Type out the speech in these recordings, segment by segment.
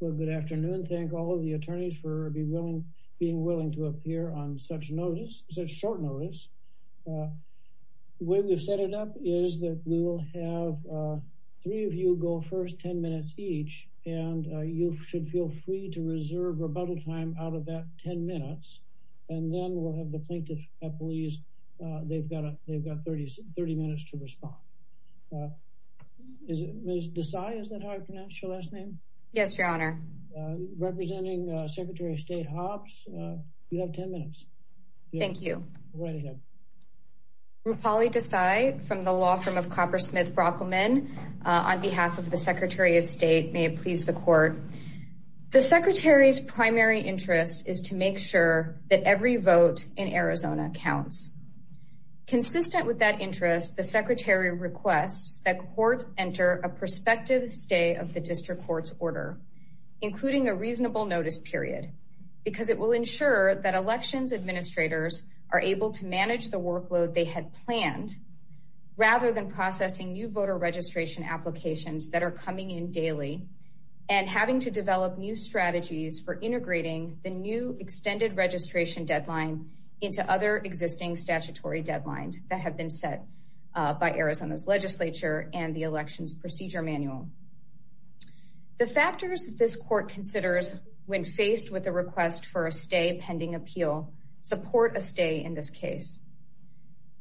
Well, good afternoon. Thank all of the attorneys for being willing to appear on such notice, such short notice. The way we've set it up is that we will have three of you go first, 10 minutes each, and you should feel free to reserve a bundle of time out of that 10 minutes. And then we'll have the plaintiff at the lease. They've got 30 minutes to respond. Ms. Desai, is that how I pronounce your last name? Yes, your honor. Representing Secretary of State Hobbs, you have 10 minutes. Thank you. You're welcome. Rufali Desai from the law firm of Copper Smith Brockelman, on behalf of the Secretary of State, may it please the court. The secretary's primary interest is to make sure that every vote in Arizona counts. Consistent with that interest, the secretary requests that courts enter a prospective stay of the district court's order, including a reasonable notice period, because it will ensure that elections administrators are able to manage the workload they had planned, rather than processing new voter registration applications that are coming in daily, and having to develop new strategies for integrating the new extended registration deadline into other existing statutory deadlines that have been set by Arizona's legislature and the elections procedure manual. The factors that this court considers when faced with a request for a stay pending appeal, support a stay in this case.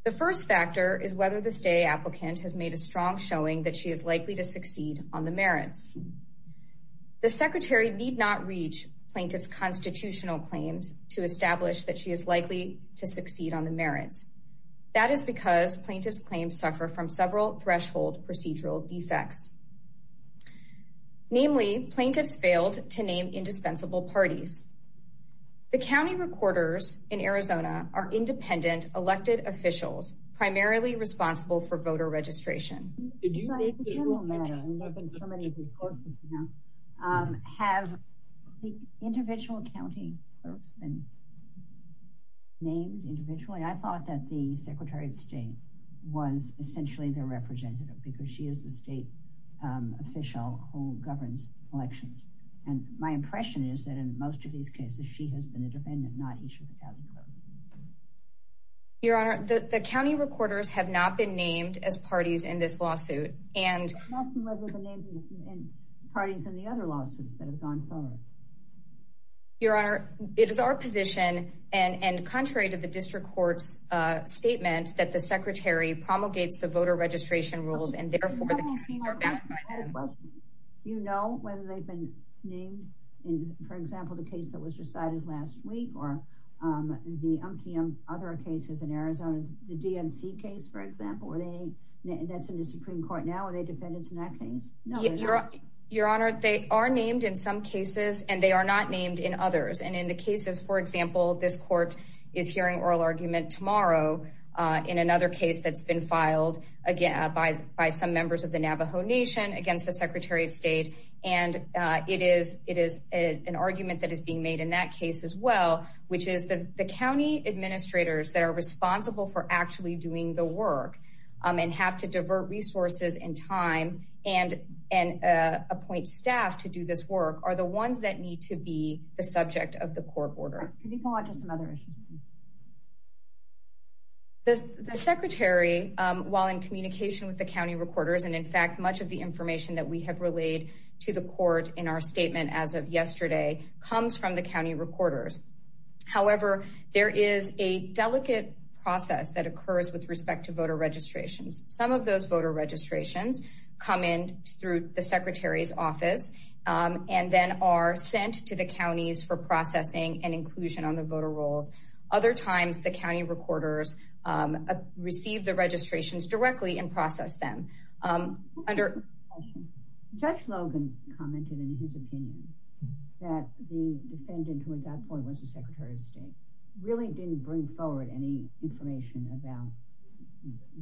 The first factor is whether the stay applicant has made a strong showing that she is likely to succeed on the merit. The secretary need not reach plaintiff's constitutional claims to establish that she is likely to succeed on the merit. That is because plaintiff's claims suffer from several threshold procedural effects. Namely, plaintiffs failed to name indispensable parties. The county recorders in Arizona are independent elected officials, primarily responsible for voter registration. Did you say- In general manner, and we've been so many reports now, have the individual county name individually? I thought that the secretary of state was essentially the representative because she is the state official who governs elections. And my impression is that in most of these cases, she has been a defendant, not each of the county courts. Your honor, the county recorders have not been named as parties in this lawsuit. And- I'm not familiar with the names of the parties in the other lawsuits that have gone forward. Your honor, it is our position, and contrary to the district court's statements, that the secretary promulgates the voter registration rules and therefore- You know whether they've been named in, for example, the case that was decided last week or the other cases in Arizona, the DNC case, for example, where they, that's in the Supreme Court now, are they defendants in that case? Your honor, they are named in some cases and they are not named in others. And in the cases, for example, this court is hearing oral argument tomorrow in another case that's been filed, again, by some members of the Navajo Nation against the secretary of state. And it is an argument that is being made in that case as well, which is the county administrators that are responsible for actually doing the work and have to divert resources and time and appoint staff to do this work are the ones that need to be the subject of the court order. Can you go on to some other issues? The secretary, while in communication with the county recorders, and in fact, much of the information that we have relayed to the court in our statement as of yesterday comes from the county recorders. However, there is a delicate process that occurs with respect to voter registration. Some of those voter registrations come in through the secretary's office and then are sent to the counties for processing and inclusion on the voter rolls. Other times, the county recorders receive the registrations directly and process them. Judge Logan commented in his opinion that the defendant, who at that point was the secretary of state, really didn't bring forward any information about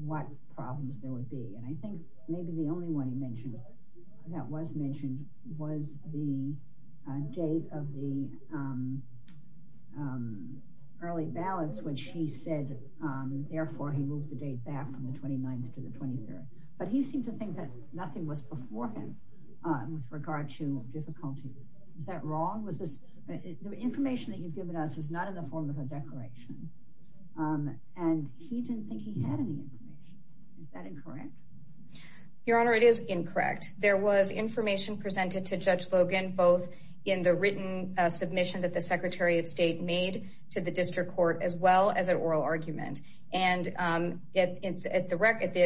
what problems there would be. And I think maybe the only one he mentioned that was mentioned was the date of the early ballots, which he said, therefore, he moved the date back from the 29th to the 23rd. But he seemed to think that nothing was before him with regard to difficulty. Is that wrong? The information that you've given us is not in the form of a declaration. And he didn't think he had any information. Is that incorrect? Your Honor, it is incorrect. There was information presented to Judge Logan, both in the written submission that the secretary of state made to the district court, as well as an oral argument. And at the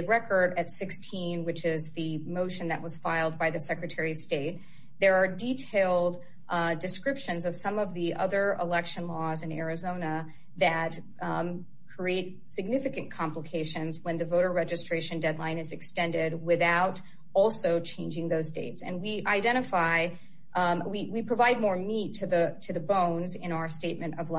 record at 16, which is the motion that was filed by the secretary of state, there are detailed descriptions of some of the other election laws in Arizona that create significant complications when the voter registration deadline is extended without also changing those dates. And we identify, we provide more meat to the bones in our statement of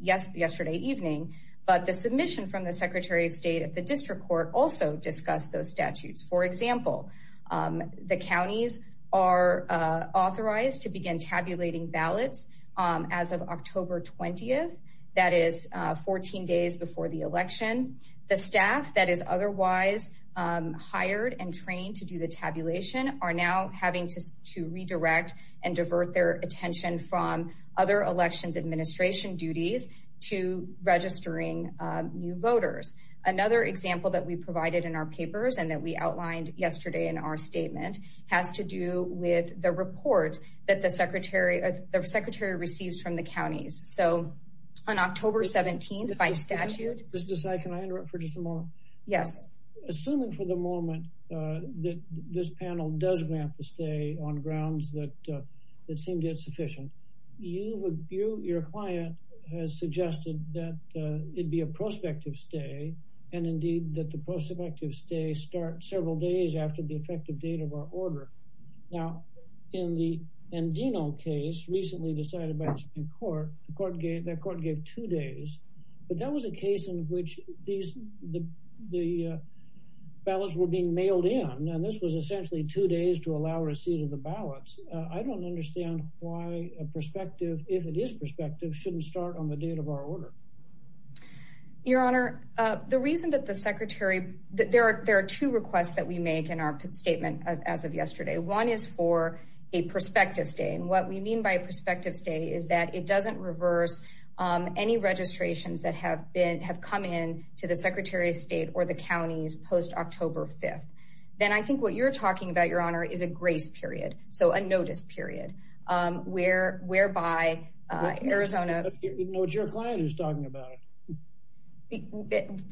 yesterday evening, but the submission from the secretary of state at the district court also discussed those statutes. For example, the counties are authorized to begin tabulating ballots as of October 20th. That is 14 days before the election. The staff that is otherwise hired and trained to do the tabulation are now having to redirect and divert their attention from other elections administration duties to registering new voters. Another example that we provided in our papers and that we outlined yesterday in our statement has to do with the report that the secretary receives from the counties. So on October 17th, by statute- Ms. Desai, can I interrupt for just a moment? Yeah. Assuming for the moment that this panel does grant the stay on grounds that seem to be insufficient, you, your client has suggested that it'd be a prospective stay and indeed that the prospective stay starts several days after the effective date of our order. Now in the Endino case recently decided by the Supreme Court, the court gave two days, but that was a case in which these, the ballots were being mailed in. And this was essentially two days to allow receipt of the ballots. I don't understand why a prospective, if it is prospective, shouldn't start on the date of our order. Your Honor, the reason that the secretary, that there are two requests that we made in our statement as of yesterday. One is for a prospective stay. And what we mean by prospective stay is that it doesn't reverse any registrations that have been, have come in to the secretary of state or the counties post October 5th. Then I think what you're talking about, Your Honor, is a grace period. So a notice period, whereby Arizona- What's your client is talking about?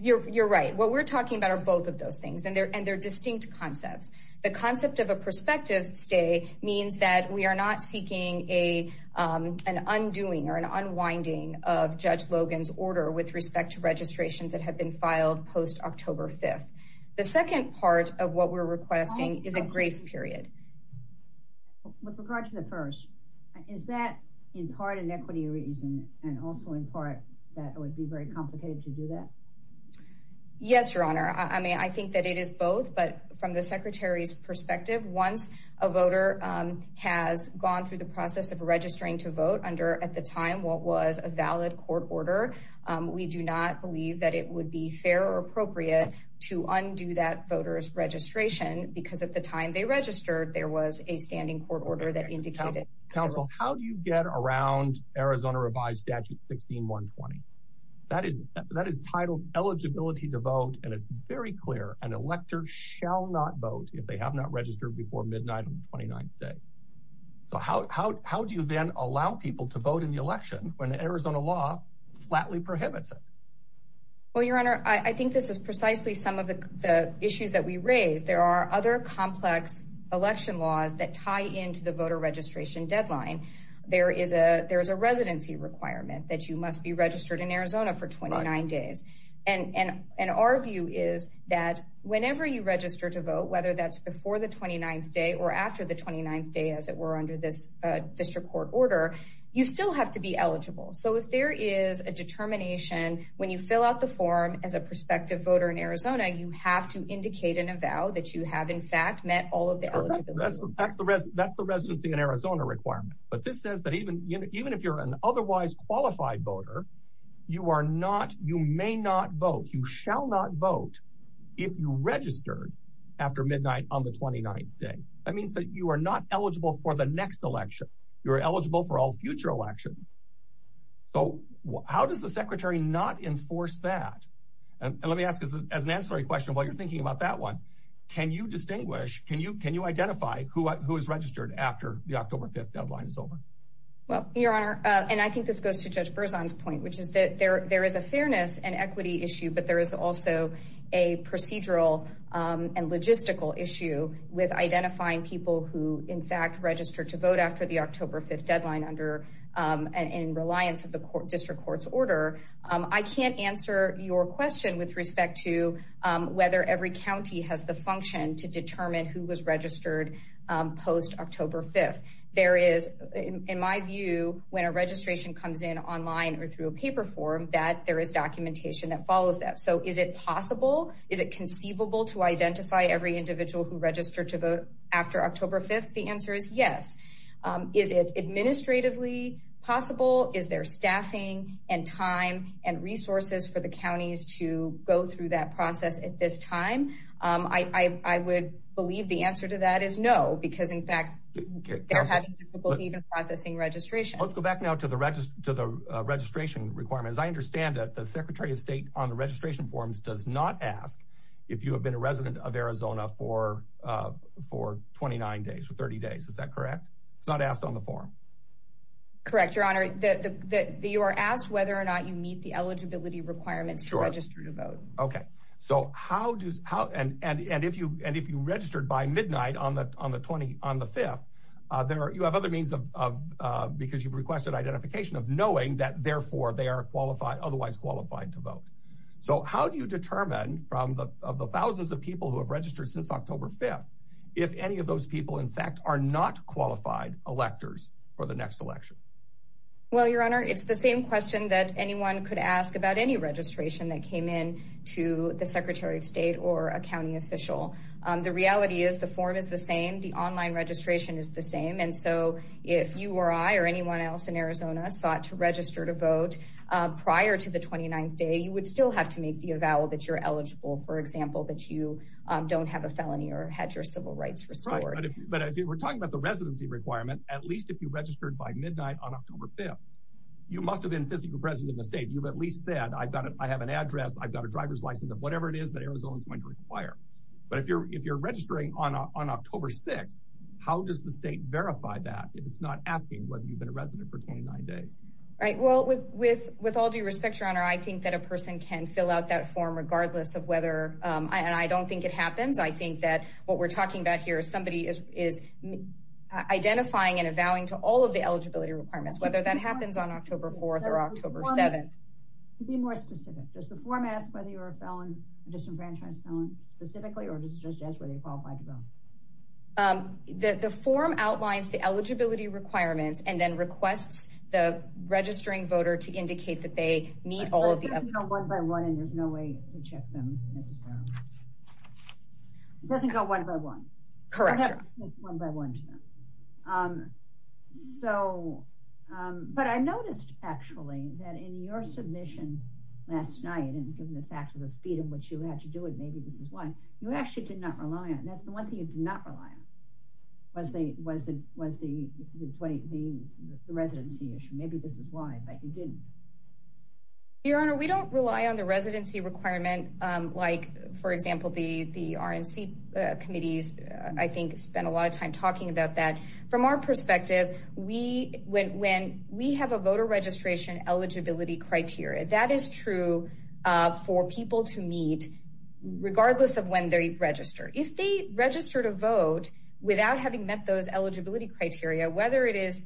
You're right. What we're talking about are both of those things and they're distinct concepts. The concept of a prospective stay means that we are not seeking an undoing or an unwinding of Judge Logan's order with respect to registrations that have been filed post October 5th. The second part of what we're requesting is a grace period. With regard to the first, is that in part an equity reason and also in part that it would be very complicated to do that? Yes, Your Honor. I mean, I think that it is both, but from the secretary's perspective, once a voter has gone through the process of registering to vote under, at the time, what was a valid court order, we do not believe that it would be fair or appropriate to undo that voter's registration because at the time they registered, there was a standing court order that indicated- Counsel, how do you get around Arizona revised statute 16-120? That is titled eligibility to vote. And it's very clear, an elector shall not vote if they have not registered before midnight on the 29th day. So how do you then allow people to vote in the election when the Arizona law flatly prohibits it? Well, Your Honor, I think this is precisely some of the issues that we raise. There are other complex election laws that tie into the voter registration deadline. There is a residency requirement that you must be registered in Arizona for 29 days. And our view is that whenever you register to vote, whether that's before the 29th day or after the 29th day, as it were under this district court order, you still have to be eligible. So if there is a determination, when you fill out the form as a prospective voter in Arizona, you have to indicate in a vow that you have in fact met all of the eligibility requirements. That's the residency in Arizona requirement. But this says that even if you're an otherwise qualified voter, you may not vote, you shall not vote if you registered after midnight on the 29th day. That means that you are not eligible for the next election. You're eligible for all future elections. So how does the secretary not enforce that? And let me ask this as an ancillary question while you're thinking about that one. Can you distinguish, can you identify who is registered after the October 5th deadline is over? Well, Your Honor, and I think this goes to Judge Berzon's point, which is that there is a fairness and equity issue, but there is also a procedural and logistical issue with identifying people who in fact registered to vote after the October 5th deadline under and reliant to the district court's order. I can't answer your question with respect to whether every county has the function to determine who was registered post October 5th. There is, in my view, when a registration comes in online or through a paper form, that there is documentation that follows that. So is it possible? Is it conceivable to identify every individual who registered to vote after October 5th? The answer is yes. Is it administratively possible? Is there staffing and time and resources for the counties to go through that process at this time? I would believe the answer to that is no, because in fact, they're having difficulty even processing registration. Let's go back now to the registration requirements. I understand that the Secretary of State on the registration forms does not ask if you have been a resident of Arizona for 29 days or 30 days. Is that correct? It's not asked on the form. Correct, Your Honor. You are asked whether or not you meet the eligibility requirements to register to vote. Okay. So how does, and if you registered by midnight on the 5th, you have other means of, because you've requested identification of knowing that therefore they are qualified, otherwise qualified to vote. So how do you determine from the thousands of people who have registered since October 5th, if any of those people, in fact, are not qualified electors for the next election? Well, Your Honor, it's the same question that anyone could ask about any registration that came in to the Secretary of State or a county official. The reality is the form is the same. The online registration is the same. And so if you or I or anyone else in Arizona thought to register to vote prior to the 29th day, you would still have to make the avowal that you're eligible, for example, that you don't have a felony or had your civil rights restored. But if we're talking about the residency requirement, at least if you registered by midnight on October 5th, you must have been physically present in the state. You've at least said, I've got it. I have an address. I've got a driver's license of whatever it is that Arizona is going to require. But if you're registering on October 6th, how does the state verify that if it's not asking whether you've been a resident for 29 days? Right, well, with all due respect, Your Honor, I think that a person can fill out that form regardless of whether, and I don't think it happens. I think that what we're talking about here is somebody is identifying and avowing to all of the eligibility requirements, whether that happens on October 4th or October 7th. To be more specific, does the format, whether you're a felon, a disenfranchised felon specifically, or does it just ask whether you qualify to vote? The form outlines the eligibility requirements and then requests the registering voter to indicate that they meet all of the- It doesn't go one by one, and there's no way to check them. It doesn't go one by one. Correct. It's one by one to them. But I noticed, actually, that in your submission last night, and given the fact of the speed in which you had to do it, maybe this is why, you actually did not rely on it. That's the one thing you did not rely on was the residency issue. Maybe this is why, but you didn't. Your Honor, we don't rely on the residency requirement like, for example, the RNC committees, I think, spent a lot of time talking about that. From our perspective, we, when we have a voter registration eligibility criteria, that is true for people to meet regardless of when they register. If they register to vote without having met those eligibility criteria, whether it is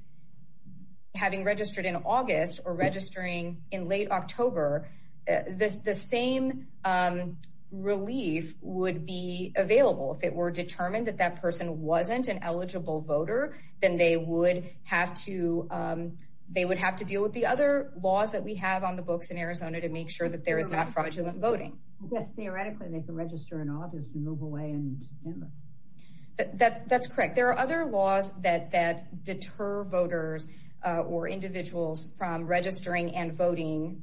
having registered in August or registering in late October, the same relief would be available. If it were determined that that person wasn't an eligible voter, then they would have to deal with the other laws that we have on the books in Arizona to make sure that there is not fraudulent voting. Yes, theoretically, they can register in August and move away in November. That's correct. There are other laws that deter voters or individuals from registering and voting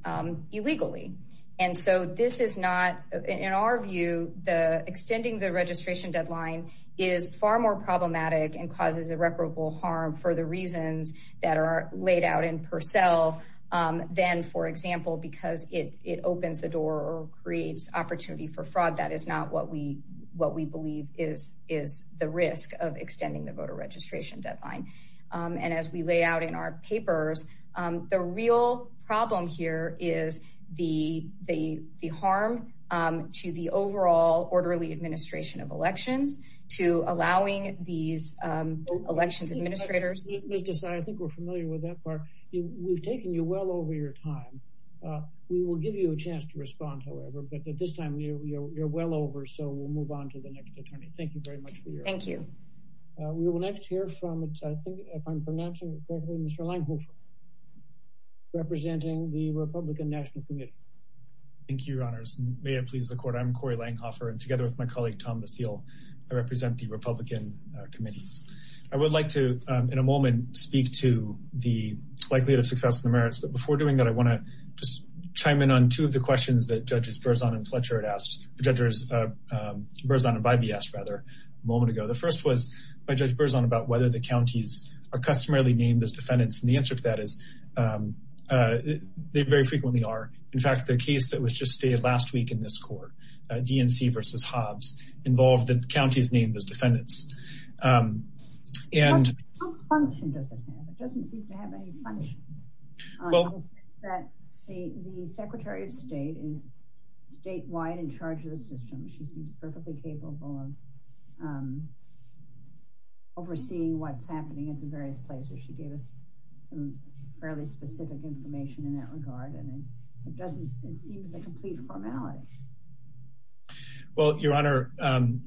illegally. And so this is not, in our view, extending the registration deadline is far more problematic and causes irreparable harm for the reasons that are laid out in Purcell than, for example, because it opens the door or creates opportunity for fraud. That is not what we believe is the risk of extending the voter registration deadline. And as we lay out in our papers, the real problem here is the harm to the overall orderly administration of elections to allowing these election administrators- Let me just add, I think we're familiar with that part. We've taken you well over your time. We will give you a chance to respond, however, but at this time, you're well over, so we'll move on to the next attorney. Thank you very much for your- Thank you. We will next hear from, I think, if I'm pronouncing it correctly, Mr. Langhofer, representing the Republican National Committee. Thank you, Your Honors. May it please the Court, I'm Corey Langhofer, and together with my colleague, Tom Basile, I represent the Republican Committee. I would like to, in a moment, speak to the likelihood of successful merits, but before doing that, I want to just chime in on two of the questions that Judges Berzon and Bybee asked a moment ago. The first was, by Judge Berzon, about whether the counties are customarily named as defendants, and the answer to that is they very frequently are. In fact, the case that was just stated last week in this Court, DNC versus Hobbs, involved the counties named as defendants. And- What function does this have? It doesn't seem to have any function. Well- That the Secretary of State is statewide in charge of the system. She's perfectly capable of overseeing what's happening at the various places. She gave us some fairly specific information in that regard, and it doesn't seem to have complete formality. Well, Your Honor,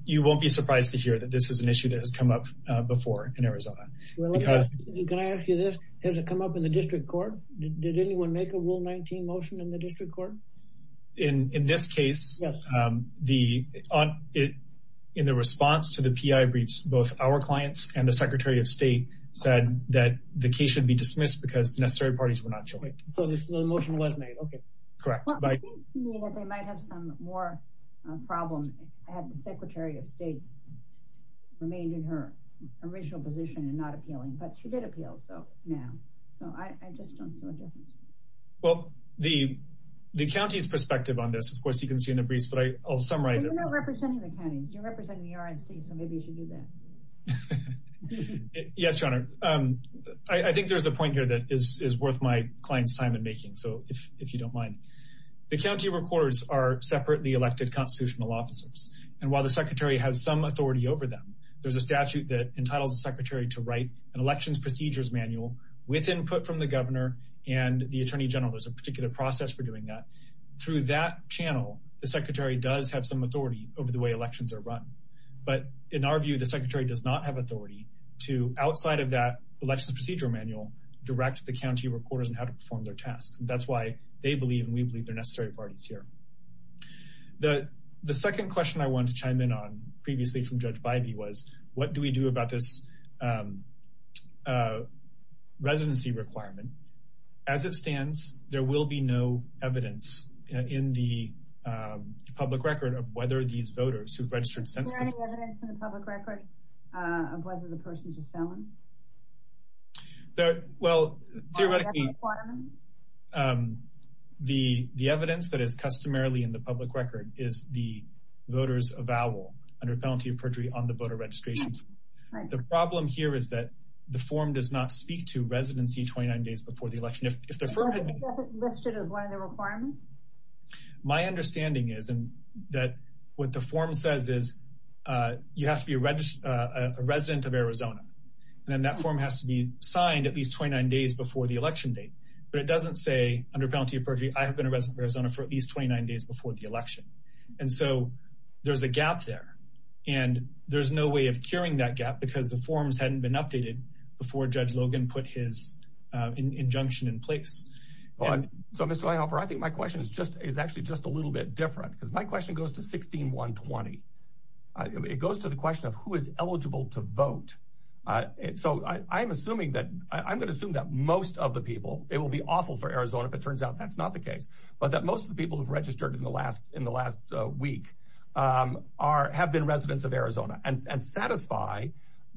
you won't be surprised to hear that this is an issue that has come up before in Arizona. Well, let me ask you this. Has it come up in the District Court? Did anyone make a Rule 19 motion in the District Court? In this case- Yes. In the response to the P.I. briefs, both our clients and the Secretary of State said that the case should be dismissed because necessary parties were not showing up. So the motion was made, okay. Correct. Well, it seems to me that they might have some more problems had the Secretary of State remained in her original position and not appealing. But she did appeal, though, now. So I just don't feel a difference. Well, the county's perspective on this, of course, you can see in the briefs, but I'll summarize- You're not representing the county. You're representing the RNC, so maybe you should do that. Yes, Your Honor. I think there's a point here that is worth my client's time in making, so if you don't mind. The county recorders and while the Secretary has some authority over them, there's a statute that entitles the Secretary to write an elections procedures manual with input from the governor and the Attorney General. There's a particular process for doing that. Through that channel, the Secretary does have some authority over the way elections are run. But in our view, the Secretary does not have authority to, outside of that elections procedure manual, direct the county recorders in how to perform their tasks. That's why they believe and we believe they're necessary parties here. The second question I wanted to chime in on previously from Judge Bybee was, what do we do about this residency requirement? As it stands, there will be no evidence in the public record of whether these voters who've registered- Is there any evidence in the public record of whether the person's a felon? Well, theoretically- On the record requirements? The evidence that is customarily in the public record is the voter's avowal under penalty of perjury on the voter registrations. The problem here is that the form does not speak to residency 29 days before the election. If the voter- Is that listed as one of the requirements? My understanding is that what the form says is you have to be a resident of Arizona. And then that form has to be signed at least 29 days before the election date. But it doesn't say under penalty of perjury, I have been a resident of Arizona for at least 29 days before the election. And so there's a gap there. And there's no way of curing that gap because the forms hadn't been updated before Judge Logan put his injunction in place. Well, so Mr. Weinhofer, I think my question is actually just a little bit different because my question goes to 16120. It goes to the question of who is eligible to vote. So I'm gonna assume that most of the people, it will be awful for Arizona but that most of the people who've registered in the last week have been residents of Arizona and satisfy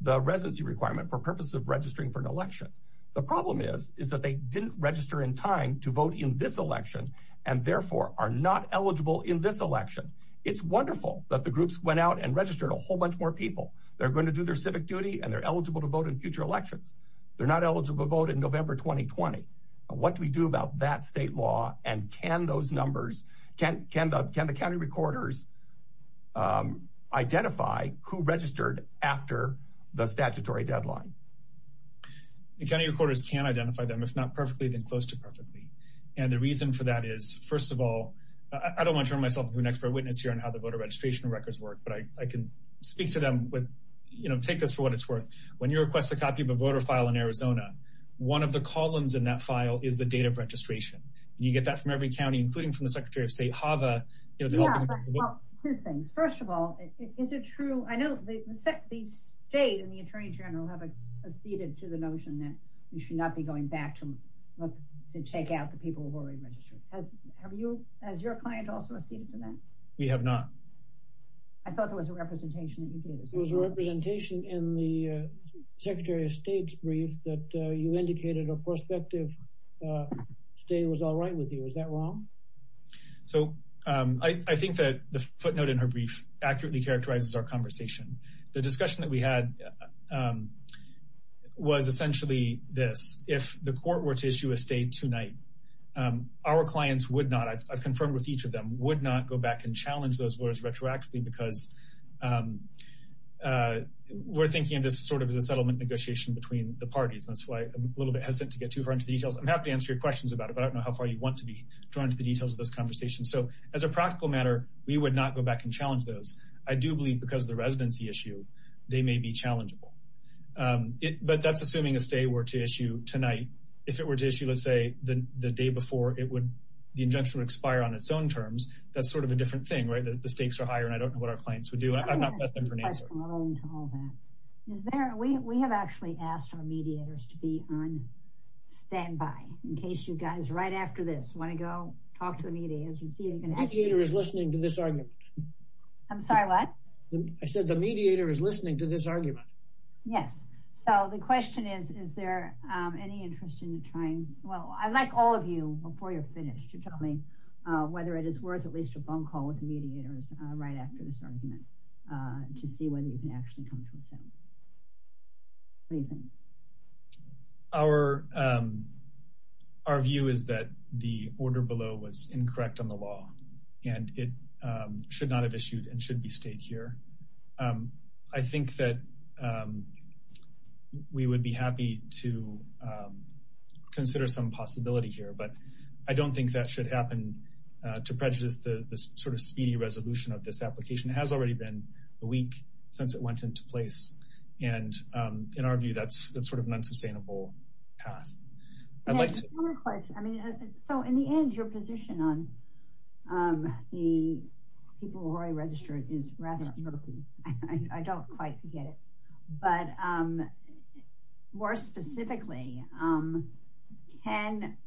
the residency requirement for purpose of registering for an election. The problem is that they didn't register in time to vote in this election and therefore are not eligible in this election. It's wonderful that the groups went out and registered a whole bunch more people. They're gonna do their civic duty and they're eligible to vote in future elections. They're not eligible to vote in November, 2020. What do we do about that state law? And can those numbers, can the county recorders identify who registered after the statutory deadline? The county recorders can identify them if not perfectly, then close to perfectly. And the reason for that is, first of all, I don't wanna turn myself into an expert witness here on how the voter registration records work but I can speak to them with, take this for what it's worth. When you request a copy of the voter file in Arizona, one of the columns in that file is the date of registration. You get that from every county, including from the Secretary of State, Hava. First of all, is it true? I know the Jays and the Attorney General have acceded to the notion that you should not be going back to check out the people who already registered. Have you, has your client also acceded to that? We have not. I thought there was a representation that you did. There was a representation in the Secretary of State's brief that you indicated a prospective state was all right with you. Is that wrong? So I think that the footnote in her brief accurately characterizes our conversation. The discussion that we had was essentially this. If the court were to issue a state tonight, our clients would not, I've confirmed with each of them, would not go back and challenge those words retroactively because we're thinking of this sort of as a settlement negotiation between the parties. And that's why I'm a little bit hesitant to get too hard into details. I'm happy to answer your questions about it, but I don't know how far you want to be trying to get into the details of this conversation. So as a practical matter, we would not go back and challenge those. I do believe because of the residency issue, they may be challengeable. But that's assuming a state were to issue tonight. If it were to issue, let's say, the day before, it would, the injunction would expire on its own terms. That's sort of a different thing, right? The stakes are higher and I don't know what our clients would do. I'm not testing for an answer. I'm not willing to hold that. Is there, we have actually asked our mediators to be on standby in case you guys, right after this, wanna go talk to the mediators. You see, you can ask- The mediator is listening to this argument. I'm sorry, what? I said the mediator is listening to this argument. Yes. So the question is, is there any interest in trying, well, I'd like all of you, before you're finished, to tell me whether it is worth at least a phone call with the mediators right after this argument to see whether you can actually come to a sentence. Nathan. Our view is that the order below was incorrect on the law and it should not have issued and should be stayed here. I think that we would be happy to consider some possibility here, but I don't think that should happen to prejudice the sort of speedy resolution of this application. It has already been a week since it went into place. And in our view, that's sort of an unsustainable path. I'd like to- One more question. I mean, so in the end, your position on the people who already registered is rather murky. I don't quite get it, but more specifically, can,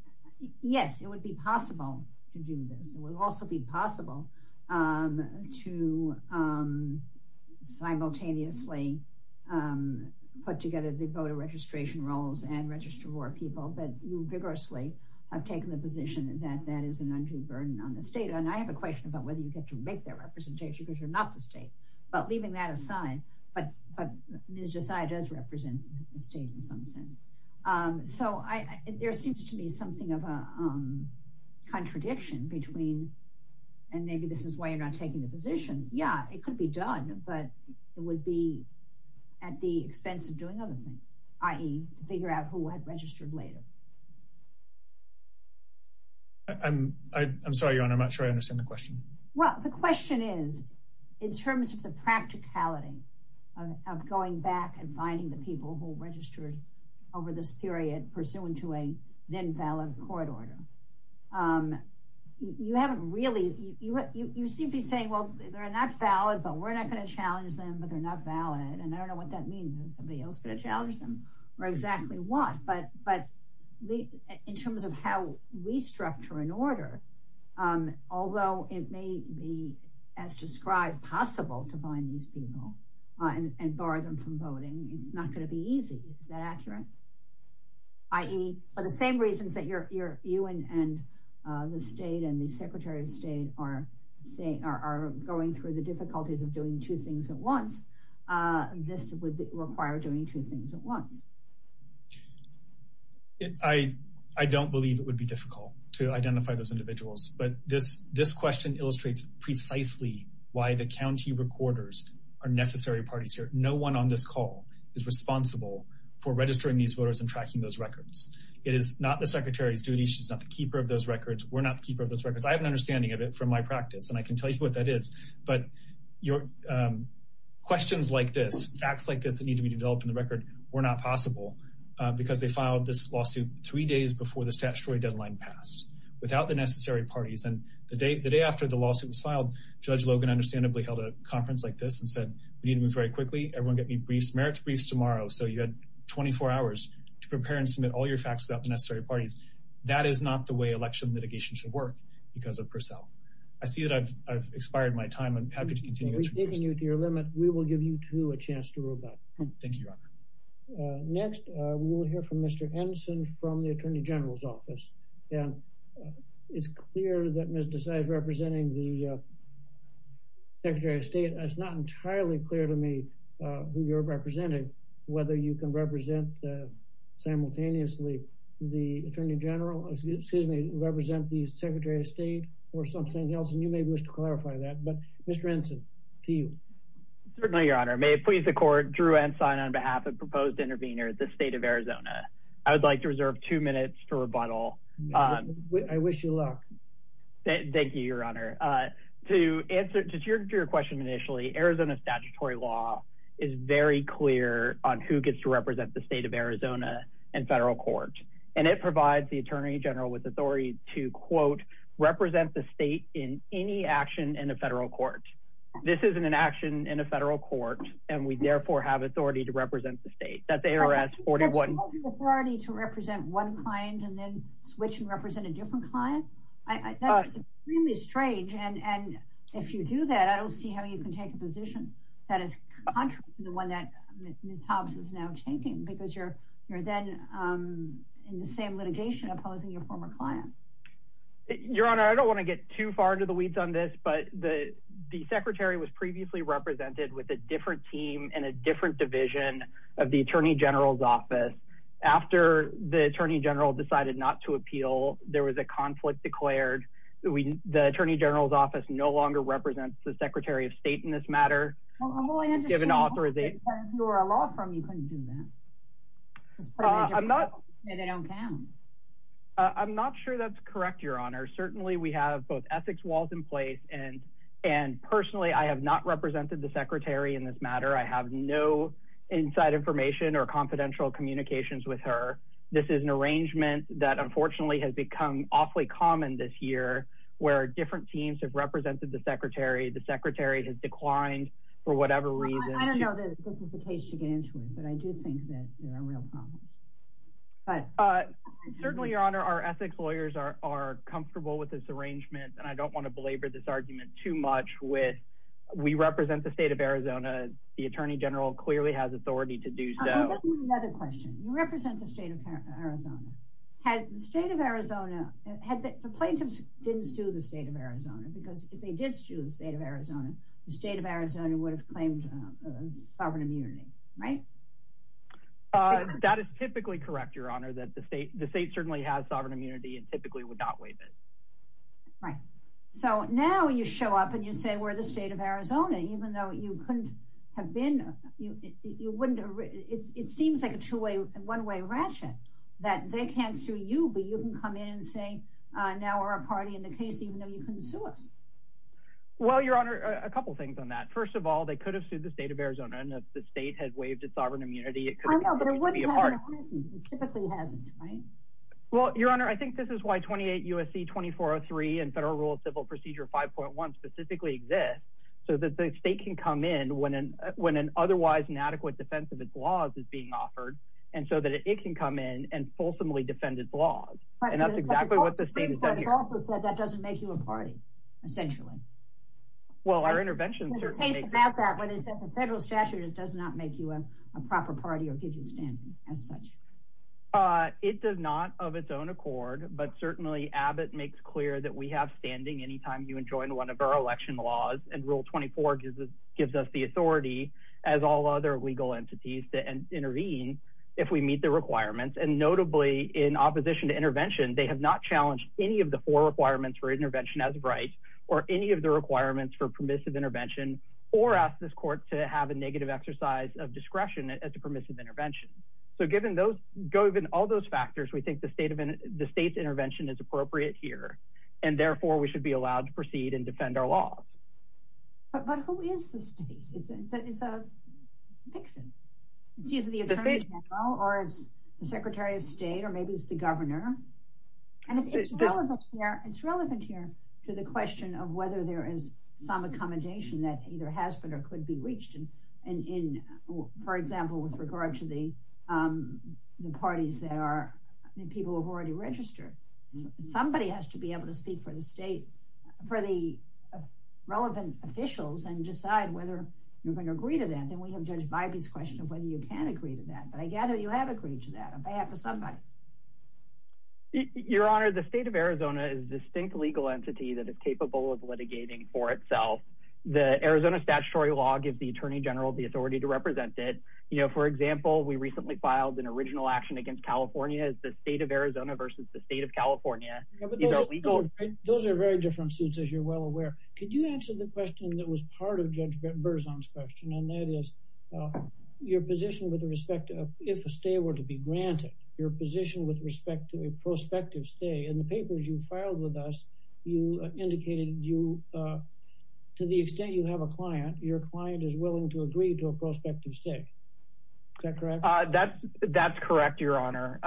yes, it would be possible to do this. It would also be possible to simultaneously put together the voter registration rolls and register more people, but you vigorously have taken the position that that is an undue burden on the state. And I have a question about whether you get to make that representation because you're not the state, but leaving that aside, but Minnesota does represent the state in some sense. So there seems to me something of a contradiction between, and maybe this is why you're not taking the position. Yeah, it could be done, but it would be at the expense of doing other things, i.e. figure out who has registered later. I'm sorry, I'm not sure I understand the question. Well, the question is, in terms of the practicality of going back and finding the people who registered over this period pursuant to a then valid court order, you haven't really, you seem to be saying, well, they're not valid, but we're not gonna challenge them, but they're not valid. And I don't know what that means. Is somebody else gonna challenge them? Or exactly what? But in terms of how we structure an order, although it may be as described possible to find these people and bar them from voting, it's not gonna be easy, is that accurate? I.e. for the same reasons that you and the state and the Secretary of State are going through the difficulties of doing two things at once, this would require doing two things at once. I don't believe it would be difficult to identify those individuals, but this question illustrates precisely why the county recorders are necessary parties here. No one on this call is responsible for registering these voters and tracking those records. It is not the Secretary's duty. She's not the keeper of those records. We're not the keeper of those records. I have an understanding of it from my practice, and I can tell you what that is, but questions like this, acts like this that need to be developed in the record were not possible because they filed this lawsuit three days before the statutory deadline pass without the necessary parties. And the day after the lawsuit was filed, Judge Logan understandably held a conference like this and said, we need to move very quickly. Everyone get me merits briefs tomorrow. So you had 24 hours to prepare and submit all your facts about the necessary parties. That is not the way election litigation should work because of Purcell. I see that I've expired my time. I'm happy to continue. We've taken you to your limit. We will give you two a chance to rebut. Thank you, Your Honor. Next, we will hear from Mr. Henson from the Attorney General's office. And it's clear that Ms. Desai is representing the Secretary of State. It's not entirely clear to me who you're representing, whether you can represent simultaneously the Attorney General, excuse me, represent the Secretary of State or something else. And you may wish to clarify that, but Mr. Henson, to you. Certainly, Your Honor. May it please the court, Drew Henson on behalf of Proposed Intervenors, the state of Arizona. I would like to reserve two minutes for rebuttal. I wish you luck. Thank you, Your Honor. To answer to your question initially, Arizona statutory law is very clear on who gets to represent the state of Arizona in federal court. And it provides the Attorney General with authority to, quote, represent the state in any action in a federal court. This isn't an action in a federal court, and we therefore have authority to represent the state. That's ARS 41. You have authority to represent one client and then switch and represent a different client? I thought it was really strange. And if you do that, I don't see how you can take a position that is contrary to the one that Ms. Thompson is now taking, because you're then in the same litigation opposing your former client. Your Honor, I don't want to get too far into the weeds on this, but the Secretary was previously represented with a different team and a different division of the Attorney General's Office. After the Attorney General decided not to appeal, there was a conflict declared. The Attorney General's Office no longer represents the Secretary of State in this matter. Well, I'm going to say, because you're a law firm, you couldn't do that. And it don't count. I'm not sure that's correct, Your Honor. Certainly, we have both ethics walls in place, and personally, I have not represented the Secretary in this matter. I have no inside information or confidential communications with her. This is an arrangement that, unfortunately, has become awfully common this year, where different teams have represented the Secretary. The Secretary has declined for whatever reason. I don't know if this is the case you're getting into, but I do think that there are real problems. Certainly, Your Honor, our ethics lawyers are comfortable with this arrangement, and I don't want to belabor this argument too much with we represent the state of Arizona. The Attorney General clearly has authority to do so. Let me ask you another question. You represent the state of Arizona. Had the state of Arizona... The plaintiffs didn't sue the state of Arizona, because if they did sue the state of Arizona, the state of Arizona would have claimed sovereign immunity, right? That is typically correct, Your Honor, that the state certainly has sovereign immunity and typically would not waive it. Right. So now you show up and you say, we're the state of Arizona, even though you couldn't have been. It seems like a two-way, one-way ratchet, that they can't sue you, but you can come in and say, now we're a party in the case, even though you couldn't sue us. Well, Your Honor, a couple of things on that. First of all, they could have sued the state of Arizona and if the state had waived its sovereign immunity, it could have been hard. It typically hasn't, right? Well, Your Honor, I think this is why 28 U.S.C. 2403 and Federal Rule of Civil Procedure 5.1 specifically exist, so that the state can come in when an otherwise inadequate defense of its laws is being offered, and so that it can come in and fulsomely defend its laws. And that's exactly what the state is doing. But that doesn't make you a party, essentially. Well, our intervention certainly- The thing about that is that the federal statute does not make you a proper party or give you a standing as such. It does not of its own accord, but certainly Abbott makes clear that we have standing anytime you enjoin one of our election laws. And Rule 24 gives us the authority, to intervene if we meet the requirements. And notably, in opposition to intervention, they have not challenged any of the four requirements for intervention as of right, or any of the requirements for permissive intervention, or asked this court to have a negative exercise of discretion as a permissive intervention. So given all those factors, we think the state's intervention is appropriate here, and therefore we should be allowed to proceed and defend our law. But who is the state? Is it Nixon? Is it the Attorney General, or the Secretary of State, or maybe it's the Governor? And it's relevant here to the question of whether there is some accommodation that either has been or could be reached. And in, for example, with regard to the parties that are people who have already registered, somebody has to be able to speak for the state, for the relevant officials, and decide whether you're gonna agree to that. And we have judged by these questions whether you can agree to that. But I gather you have agreed to that, on behalf of somebody. Your Honor, the State of Arizona is a distinct legal entity that is capable of litigating for itself. The Arizona statutory law gives the Attorney General the authority to represent it. For example, we recently filed an original action against California as the State of Arizona versus the State of California. Those are very different suits, as you're well aware. Could you answer the question that was part of Judge Berzon's question, and that is your position with respect to if a stay were to be granted, your position with respect to a prospective stay. In the papers you filed with us, you indicated to the extent you have a client, your client is willing to agree to a prospective stay. Is that correct? That's correct, Your Honor.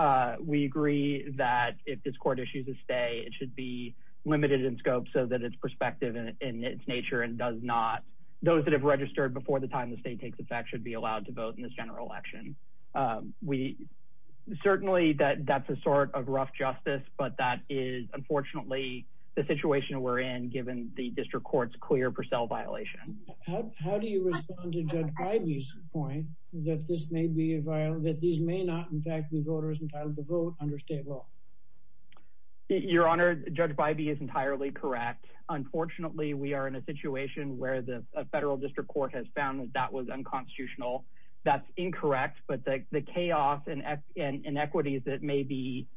We agree that if this court issues a stay, it should be limited in scope so that it's prospective in its nature, and those that have registered before the time the state takes effect should be allowed to vote in this general election. Certainly, that's a sort of rough justice, but that is unfortunately the situation we're in given the district court's clear Purcell violation. How do you respond to Judge Bybee's point that this may not, in fact, be voters entitled to vote under state law? Your Honor, Judge Bybee is entirely correct. Unfortunately, we are in a situation where the federal district court has found that that was unconstitutional. That's incorrect, but the chaos and inequities that may be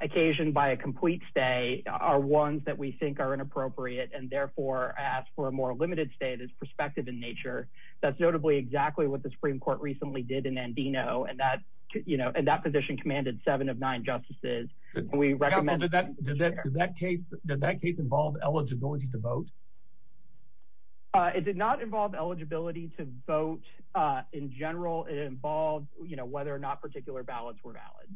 occasioned by a complete stay are ones that we think are inappropriate, and therefore ask for a more limited stay that's prospective in nature. That's notably exactly what the Supreme Court recently did in Andino, and that position commanded seven of nine justices. We recommend- Does that case involve eligibility to vote? It did not involve eligibility to vote in general. It involved whether or not particular ballots were valid.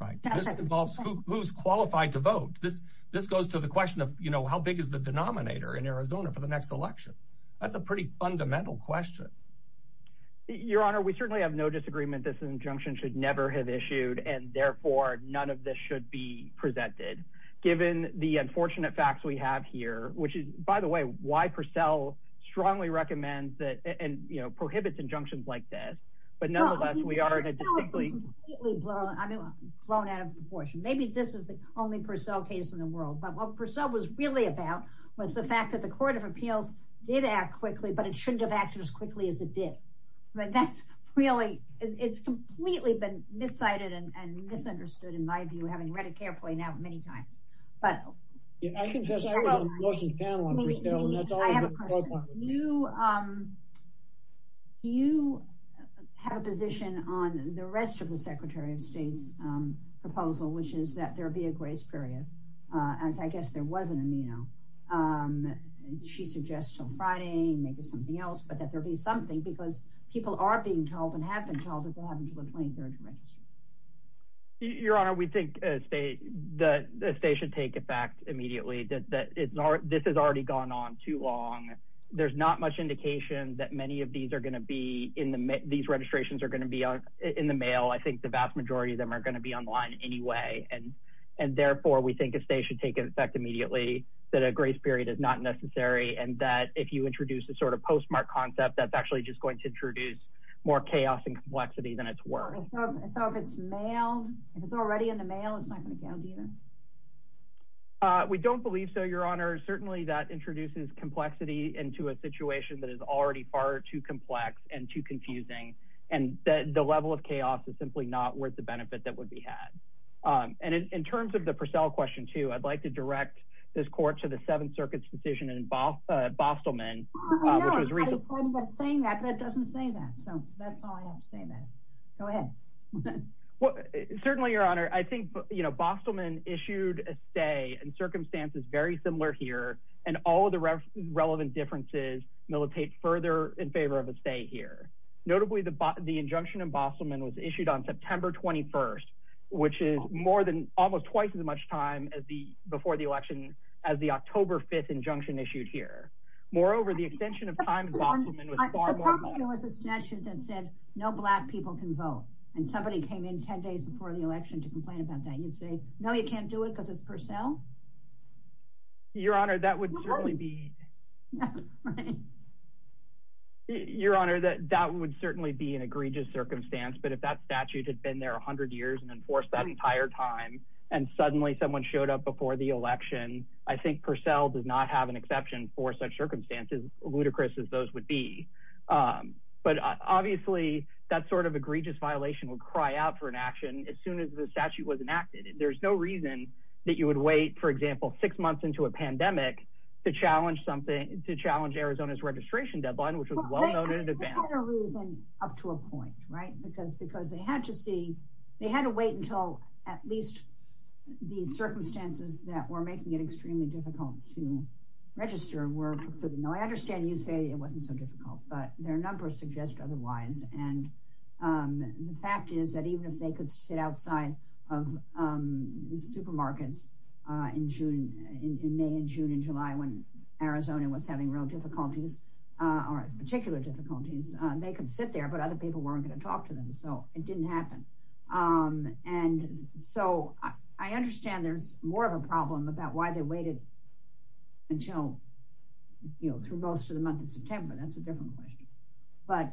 Right. This involves who's qualified to vote. This goes to the question of how big is the denominator in Arizona for the next election? That's a pretty fundamental question. Your Honor, we certainly have no disagreement. This injunction should never have issued, and therefore, none of this should be presented. Given the unfortunate facts we have here, which is, by the way, why Purcell strongly recommends that and prohibits injunctions like this, but nonetheless, we are in a distinctly- Purcell is completely blown out of proportion. Maybe this is the only Purcell case in the world, but what Purcell was really about was the fact that the Court of Appeals did act quickly, but it shouldn't have acted as quickly as it did. That's really, it's completely been misguided and misunderstood, in my view, having read it carefully now many times. But- If I can just- I have a question. Do you have a position on the rest of the Secretary of State's proposal, which is that there be a grace period? In fact, I guess there was an ameno. She suggests on Friday, maybe something else, but that there be something, because people are being told and have been told that they have until a 23rd grace period. Your Honor, we think a stay should take effect immediately. This has already gone on too long. There's not much indication that many of these are gonna be, these registrations are gonna be in the mail. I think the vast majority of them are gonna be online anyway, and therefore, we think a stay should take effect immediately, that a grace period is not necessary, and that if you introduce a sort of postmark concept, that's actually just going to introduce more chaos and complexity than it's worth. So if it's mail, if it's already in the mail, it's not gonna count, either? We don't believe so, Your Honor. Certainly, that introduces complexity into a situation that is already far too complex and too confusing, and the level of chaos is simply not worth the benefit that would be had. And in terms of the Purcell question, too, I'd like to direct this Court to the Seventh Circuit's decision in Bostleman, which was recently- I know, but it doesn't say that. So that's why I don't say that. Go ahead. Well, certainly, Your Honor, I think, you know, Bostleman issued a stay in circumstances very similar here, and all of the relevant differences militate further in favor of a stay here. Notably, the injunction in Bostleman was issued on September 21st, which is almost twice as much time before the election as the October 5th injunction issued here. Moreover, the extension of time in Bostleman was far more- If there was a statute that said no black people can vote, and somebody came in 10 days before the election to complain about that, you'd say, no, you can't do it because it's Purcell? Your Honor, that would certainly be- That's right. Your Honor, that would certainly be an egregious circumstance, but if that statute had been there 100 years and enforced that entire time, and suddenly someone showed up before the election, I think Purcell does not have an exception for such circumstances, as ludicrous as those would be. But obviously, that sort of egregious violation would cry out for an action as soon as the statute was enacted. There's no reason that you would wait, for example, six months into a pandemic to challenge Arizona's registration deadline, which was well-noted- There's other reasons up to a point, right? Because they had to wait until at least the circumstances that were making it extremely difficult to register were fulfilled. I understand you say it wasn't so difficult, but their numbers suggest otherwise. And the fact is that even if they could sit outside of the supermarkets in May and June and July, when Arizona was having real difficulties, or particular difficulties, they could sit there, but other people weren't gonna talk to them. So it didn't happen. And so I understand there's more of a problem about why they waited until, through most of the month of September. That's a different question. But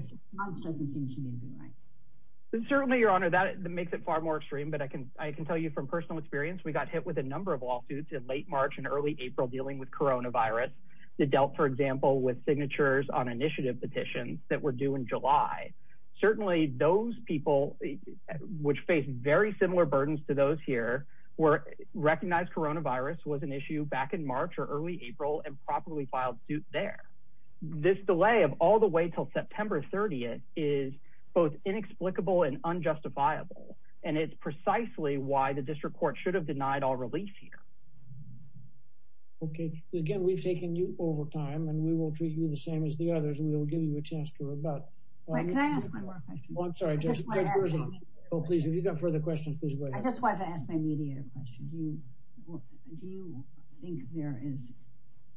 six months doesn't seem to be the right- Certainly, Your Honor, that makes it far more extreme. But I can tell you from personal experience, we got hit with a number of lawsuits in late March and early April dealing with coronavirus. They dealt, for example, with signatures on initiative petitions that were due in July. Certainly, those people, which faced very similar burdens to those here, recognized coronavirus was an issue back in March or early April and probably filed suit there. This delay of all the way till September 30th is both inexplicable and unjustifiable. And it's precisely why the district court should have denied our release here. Okay, again, we've taken you over time and we will treat you the same as the others. We will give you a chance to rebut. Wait, can I ask one more question? I'm sorry, just- I just wanna ask- Oh, please, if you've got further questions, please go ahead. I just wanted to ask my mediator a question. Do you think there is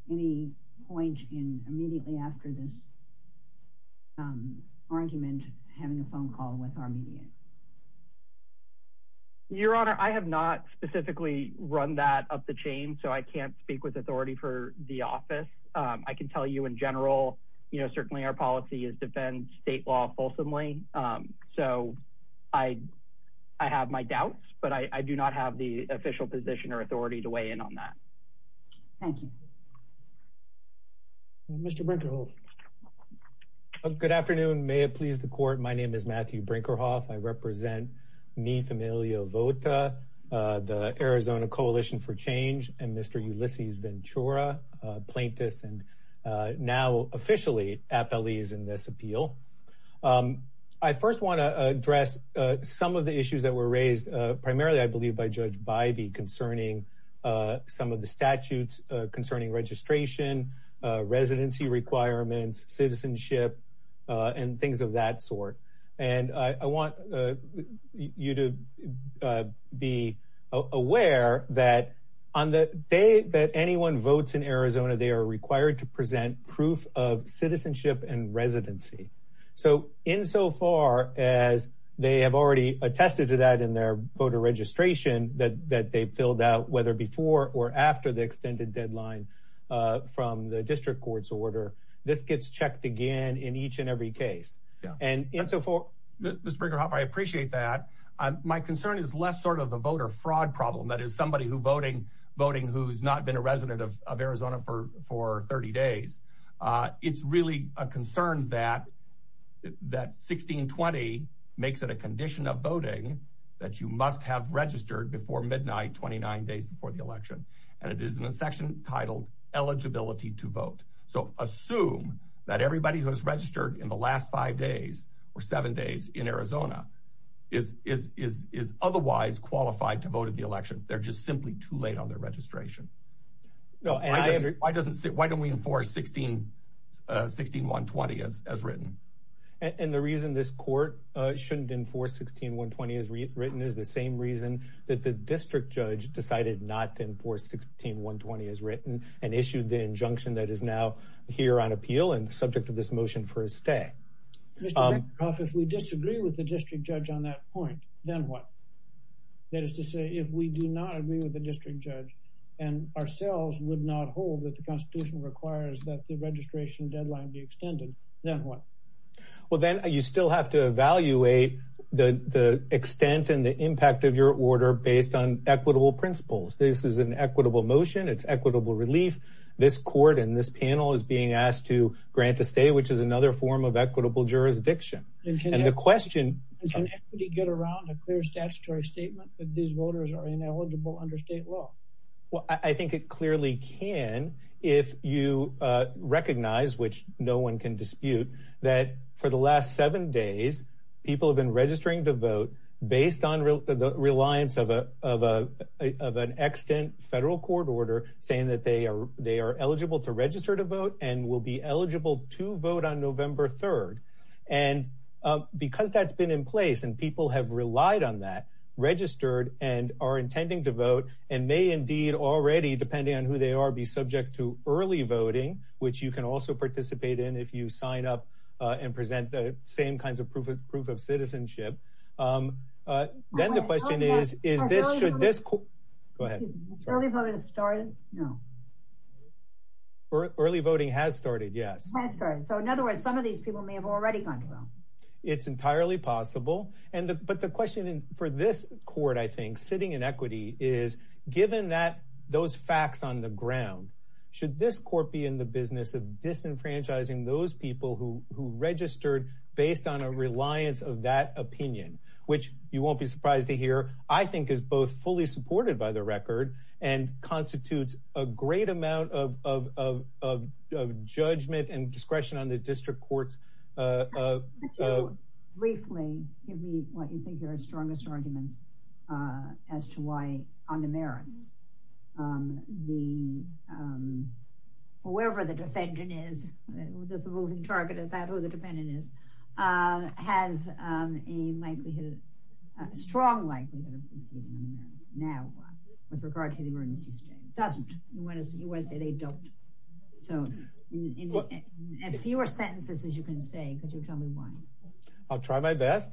any point in immediately after this argument having a phone call with our mediator? Your Honor, I have not specifically run that up the chain, so I can't speak with authority for the office. I can tell you in general, certainly our policy is defend state law fulsomely. So I have my doubts, but I do not have the official position or authority to weigh in on that. Thank you. Mr. Brinkerhoff. Good afternoon. May it please the court. My name is Matthew Brinkerhoff. I represent Mi Familia Vota, the Arizona Coalition for Change and Mr. Ulysses Ventura, plaintiff and now officially at the lease in this appeal. I first wanna address some of the issues that were raised, primarily, I believe by Judge Bybee concerning some of the statutes concerning registration, residency requirements, citizenship, and things of that sort. And I want you to be aware that on the day that anyone votes in Arizona, they are required to present proof of citizenship and residency. So in so far as they have already attested to that in their voter registration that they've filled out, whether before or after the extended deadline from the district court's order, this gets checked again in each and every case. And in so far... Mr. Brinkerhoff, I appreciate that. My concern is less sort of a voter fraud problem that is somebody who's voting who's not been a resident of Arizona for 30 days. It's really a concern that 1620 makes it a condition of voting that you must have registered before midnight, 29 days before the election. And it is in the section titled eligibility to vote. So assume that everybody who has registered in the last five days or seven days in Arizona is otherwise qualified to vote at the election. They're just simply too late on their registration. No, why don't we enforce 16120 as written? And the reason this court shouldn't enforce 16120 as written is the same reason that the district judge decided not to enforce 16120 as written and issued the injunction that is now here on appeal and subject to this motion for a stay. Mr. Brinkerhoff, if we disagree with the district judge on that point, then what? That is to say, if we do not agree with the district judge and ourselves would not hold that the constitution requires that the registration deadline be extended, then what? Well, then you still have to evaluate the extent and the impact of your order based on equitable principles. This is an equitable motion. It's equitable relief. This court and this panel is being asked to grant a stay, which is another form of equitable jurisdiction. And the question- Can equity get around a clear statutory statement that these voters are ineligible under state law? Well, I think it clearly can if you recognize, which no one can dispute, that for the last seven days, people have been registering to vote based on the reliance of an extant federal court order saying that they are eligible to register to vote and will be eligible to vote on November 3rd. And because that's been in place and people have relied on that, registered and are intending to vote and may indeed already, depending on who they are, be subject to early voting, which you can also participate in if you sign up and present the same kinds of proof of citizenship. Then the question is, should this- Go ahead. Early voting has started? No. Early voting has started, yes. Has started. So in other words, some of these people may have already gone to vote. It's entirely possible. But the question for this court, I think, sitting in equity, is given those facts on the ground, should this court be in the business of disenfranchising those people who registered based on a reliance of that opinion, which you won't be surprised to hear, I think is both fully supported by the record and constitutes a great amount of judgment and discretion on the district court's- Briefly, give me what you think are the strongest arguments as to why, on the merits, whoever the defendant is, the moving target is that who the defendant is, has a likelihood, a strong likelihood of succeeding now with regard to the emergency state. Doesn't. You want to say they don't. So in fewer sentences, as you can say, could you tell me why? I'll try my best.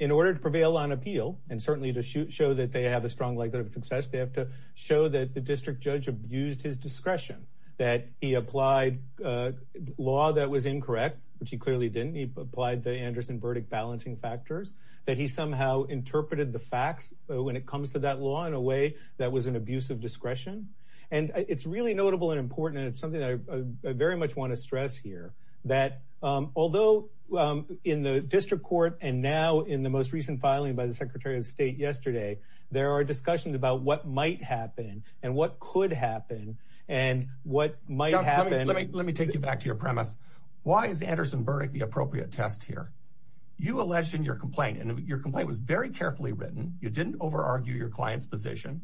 In order to prevail on appeal, and certainly to show that they have a strong likelihood of success, they have to show that the district judge abused his discretion, that he applied a law that was incorrect, which he clearly didn't. He applied the Anderson verdict balancing factors, that he somehow interpreted the facts when it comes to that law in a way that was an abuse of discretion. And it's really notable and important, and it's something that I very much want to stress here, that although in the district court, and now in the most recent filing by the Secretary of State yesterday, there are discussions about what might happen, and what could happen, and what might happen. Let me take you back to your premise. Why is the Anderson verdict the appropriate test here? You alleged in your complaint, and your complaint was very carefully written. You didn't overargue your client's position.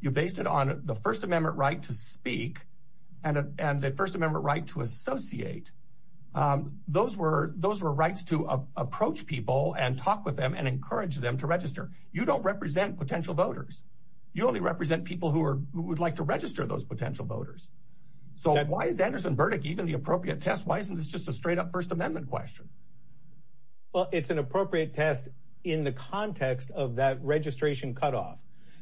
You based it on the First Amendment right to speak, and the First Amendment right to associate. Those were rights to approach people, and talk with them, and encourage them to register. You don't represent potential voters. You only represent people who would like to register those potential voters. So why is Anderson verdict even the appropriate test? Why isn't this just a straight up First Amendment question? Well, it's an appropriate test in the context of that registration cutoff.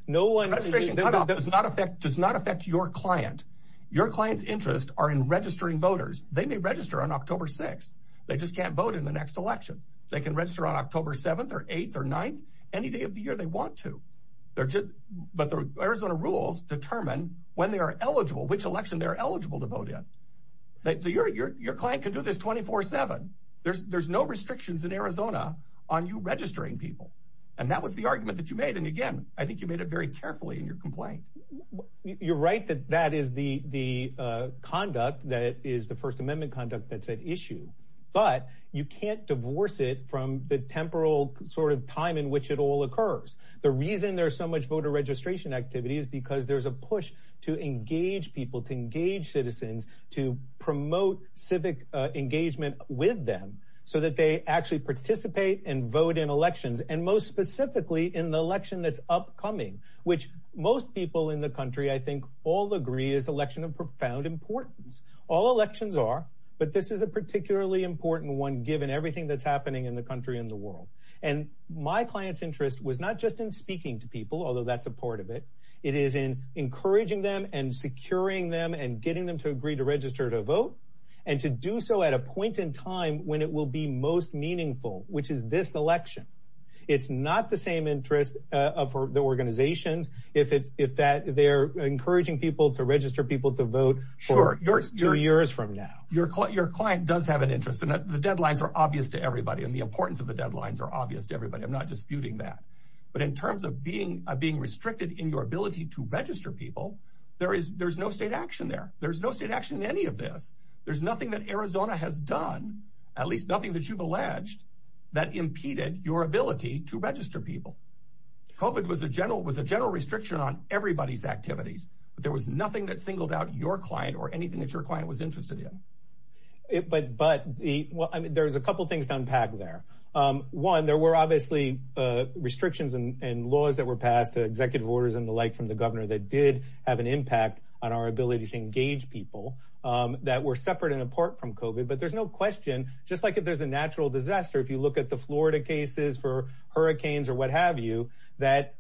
No one- Does not affect your client. Your client's interest are in registering voters. They may register on October 6th. They just can't vote in the next election. They can register on October 7th, or 8th, or 9th, any day of the year they want to. But the Arizona rules determine when they are eligible, which election they're eligible to vote in. Your client can do this 24-7. There's no restrictions in Arizona on you registering people, and that was the argument that you made, and again, I think you made it very carefully in your complaint. You're right that that is the conduct that is the First Amendment conduct that's at issue, but you can't divorce it from the temporal sort of time in which it all occurs. The reason there's so much voter registration activity is because there's a push to engage people, to engage citizens, to promote civic engagement with them so that they actually participate and vote in elections, and most specifically in the election that's upcoming, which most people in the country, I think, all agree is election of profound importance. All elections are, but this is a particularly important one given everything that's happening in the country and the world, and my client's interest was not just in speaking to people, although that's a part of it. It is in encouraging them and securing them and getting them to agree to register to vote and to do so at a point in time when it will be most meaningful, which is this election. It's not the same interest of the organizations if they're encouraging people to register people to vote for two years from now. Your client does have an interest, and the deadlines are obvious to everybody, and the importance of the deadlines are obvious to everybody. I'm not disputing that, but in terms of being restricted in your ability to register people, there's no state action there. There's no state action in any of this. There's nothing that Arizona has done, at least nothing that you've alleged, that impeded your ability to register people. COVID was a general restriction on everybody's activities, but there was nothing that singled out your client or anything that your client was interested in. But there's a couple of things to unpack there. One, there were obviously restrictions and laws that were passed, the executive orders and the like from the governor that did have an impact on our ability to engage people that were separate and apart from COVID. But there's no question, just like if there's a natural disaster, if you look at the Florida cases for hurricanes or what have you, that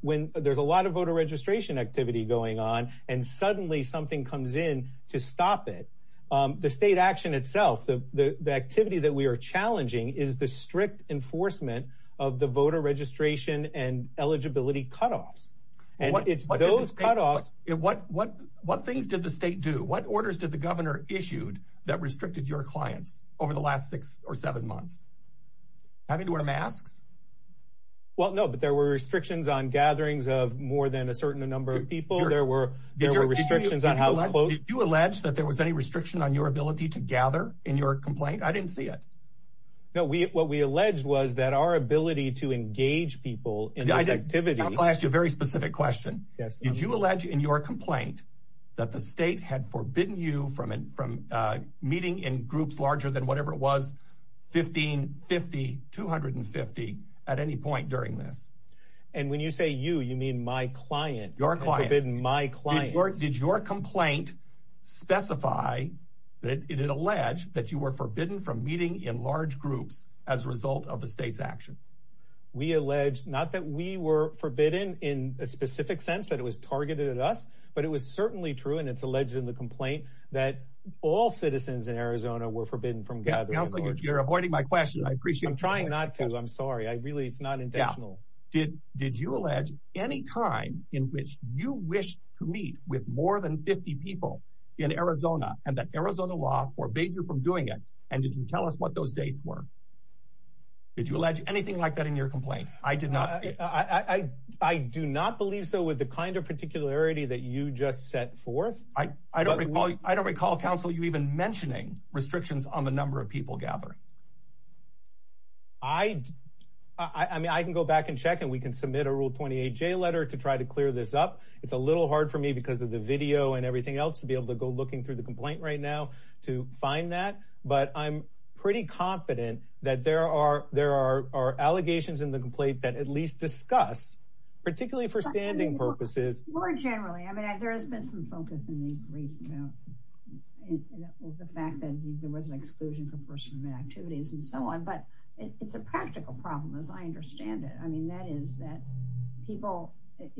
when there's a lot of voter registration activity going on and suddenly something comes in to stop it, the state action itself, the activity that we are challenging is the strict enforcement of the voter registration and eligibility cutoffs. And it's those cutoffs- What orders did the governor issued that restricted your client over the last six or seven months? Having to wear a mask? Well, no, but there were restrictions on gatherings of more than a certain number of people. There were restrictions on how close- Did you allege that there was any restriction on your ability to gather in your complaint? I didn't see it. No, what we alleged was that our ability to engage people in this activity- I'm gonna ask you a very specific question. Did you allege in your complaint that the state had forbidden you from meeting in groups larger than whatever it was, 15, 50, 250 at any point during this? And when you say you, you mean my client. Your client. Forbidden my client. Did your complaint specify, did it allege that you were forbidden from meeting in large groups as a result of the state's action? We allege, not that we were forbidden in a specific sense that it was targeted at us, but it was certainly true. And it's alleged in the complaint that all citizens in Arizona were forbidden from gathering- You're avoiding my question. I appreciate- I'm trying not to, I'm sorry. I really, it's not intentional. Did you allege any crime in which you wished to meet with more than 50 people in Arizona and that Arizona law forbade you from doing it? And you can tell us what those dates were. Did you allege anything like that in your complaint? I did not. I do not believe so with the kind of particularity that you just set forth. I don't recall, counsel, you even mentioning restrictions on the number of people gathered. I mean, I can go back and check and we can submit a Rule 28J letter to try to clear this up. It's a little hard for me because of the video and everything else to be able to go looking through the complaint right now to find that. But I'm pretty confident that there are allegations in the complaint that at least discuss, particularly for standing purposes- There has been some focus in these briefs with the fact that there was an exclusion for personal activities and so on, but it's a practical problem as I understand it. I mean, that is that people, if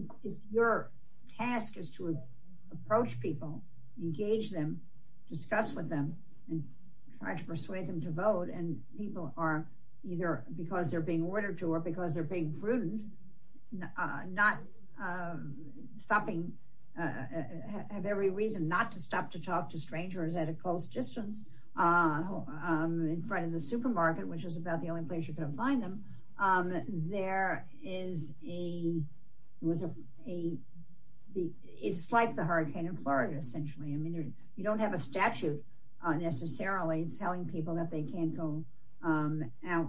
your task is to approach people, engage them, discuss with them and try to persuade them to vote and people are either because they're being ordered to or because they're being prudent, not stopping, have every reason not to stop to talk to strangers at a close distance in front of the supermarket, which is about the only place you can find them. There is a, it's like the hurricane in Florida essentially. I mean, you don't have a statute necessarily telling people that they can't go out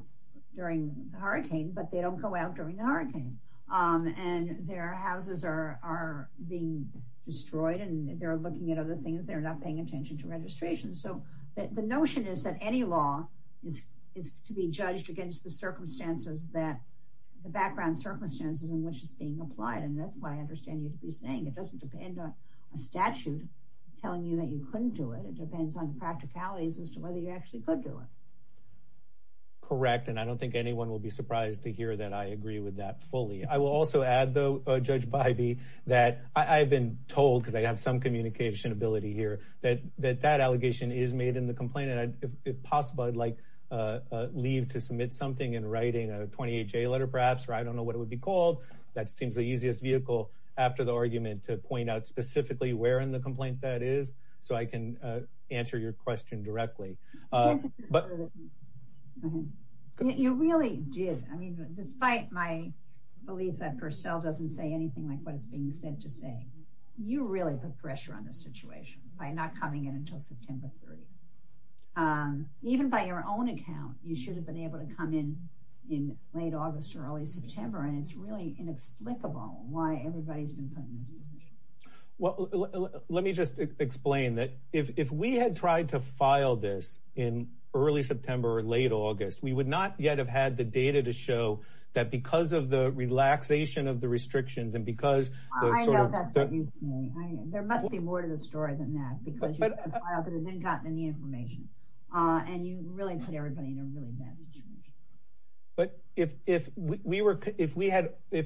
during the hurricane, but they don't go out during the hurricane and their houses are being destroyed and they're looking at other things. They're not paying attention to registration. So the notion is that any law is to be judged against the circumstances that, the background circumstances in which it's being applied. And that's why I understand you saying it doesn't depend on a statute telling you that you couldn't do it. It depends on practicalities as to whether you actually could do it. Correct. And I don't think anyone will be surprised to hear that I agree with that fully. I will also add though, Judge Bidey, that I've been told because I have some communication ability here that that allegation is made in the complaint. And if possible, I'd like leave to submit something in writing a 28 J letter perhaps, or I don't know what it would be called. That seems the easiest vehicle after the argument to point out specifically where in the complaint that is. So I can answer your question directly. But- You really did. I mean, despite my belief that Purcell doesn't say anything like what's being said today, you really put pressure on this situation by not coming in until September 30. Even by your own account, you should have been able to come in late August or early September. And it's really inexplicable why everybody's been coming in. Well, let me just explain that if we had tried to file this in early September or late August, we would not yet have had the data to show that because of the relaxation of the restrictions and because- I know that's what you say. There must be more to the story than that because you haven't gotten any information. And you really put everybody in a really bad situation. But if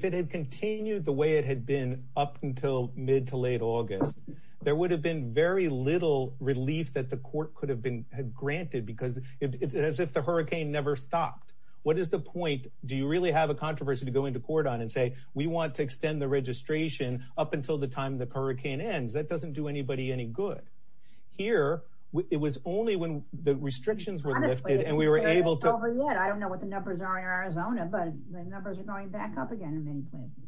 it had continued the way it had been up until mid to late August, there would have been very little relief that the court could have granted because it's as if the hurricane never stopped. What is the point? Do you really have a controversy to go into court on and say, we want to extend the registration up until the time the hurricane ends? That doesn't do anybody any good. Here, it was only when the restrictions were lifted and we were able to- It's not over yet. I don't know what the numbers are in Arizona, but the numbers are going back up again in many places.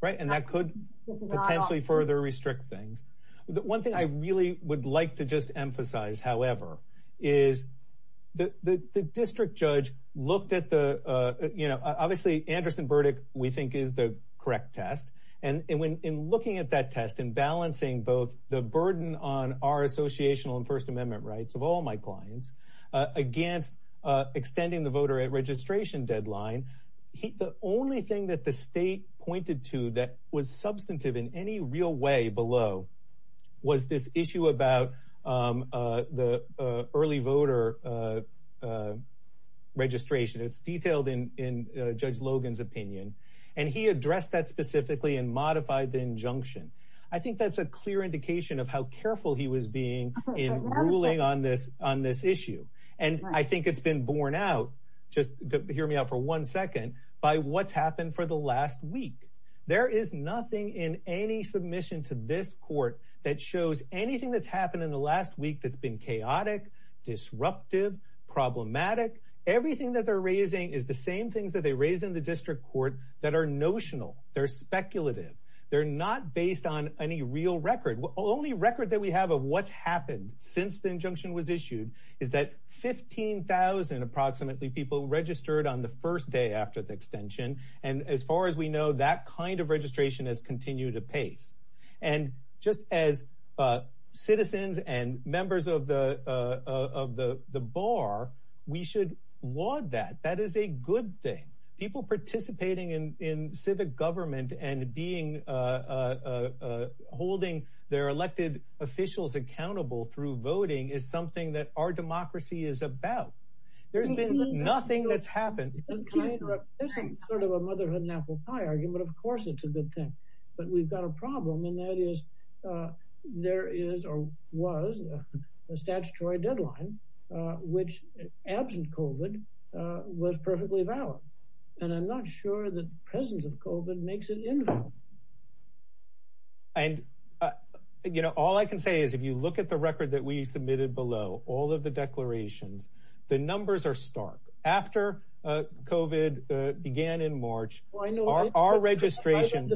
Right, and that could potentially further restrict things. The one thing I really would like to just emphasize, however, is the district judge looked at the- Obviously, Anderson-Burdick, we think, is the correct test. And in looking at that test and balancing both the burden on our associational and First Amendment rights of all my clients against extending the voter registration deadline, the only thing that the state pointed to that was substantive in any real way below was this issue about the early voter registration. It's detailed in Judge Logan's opinion. And he addressed that specifically and modified the injunction. I think that's a clear indication of how careful he was being in ruling on this issue. And I think it's been borne out. Just hear me out for one second by what's happened for the last week. There is nothing in any submission to this court that shows anything that's happened in the last week that's been chaotic, disruptive, problematic. Everything that they're raising is the same things that they raised in the district court that are notional. They're speculative. They're not based on any real record. Only record that we have of what's happened since the injunction was issued is that 15,000 approximately people registered on the first day after the extension. And as far as we know, that kind of registration has continued to pace. And just as citizens and members of the bar, we should want that. That is a good thing. People participating in civic government and holding their elected officials accountable through voting is something that our democracy is about. There's been nothing that's happened. And China isn't sort of a motherhood and apple pie argument. Of course, it's a good thing, but we've got a problem. And that is there is or was a statutory deadline which absent COVID was perfectly valid. And I'm not sure the presence of COVID makes it invalid. And, you know, all I can say is if you look at the record that we submitted below, all of the declarations, the numbers are stark. After COVID began in March, our registration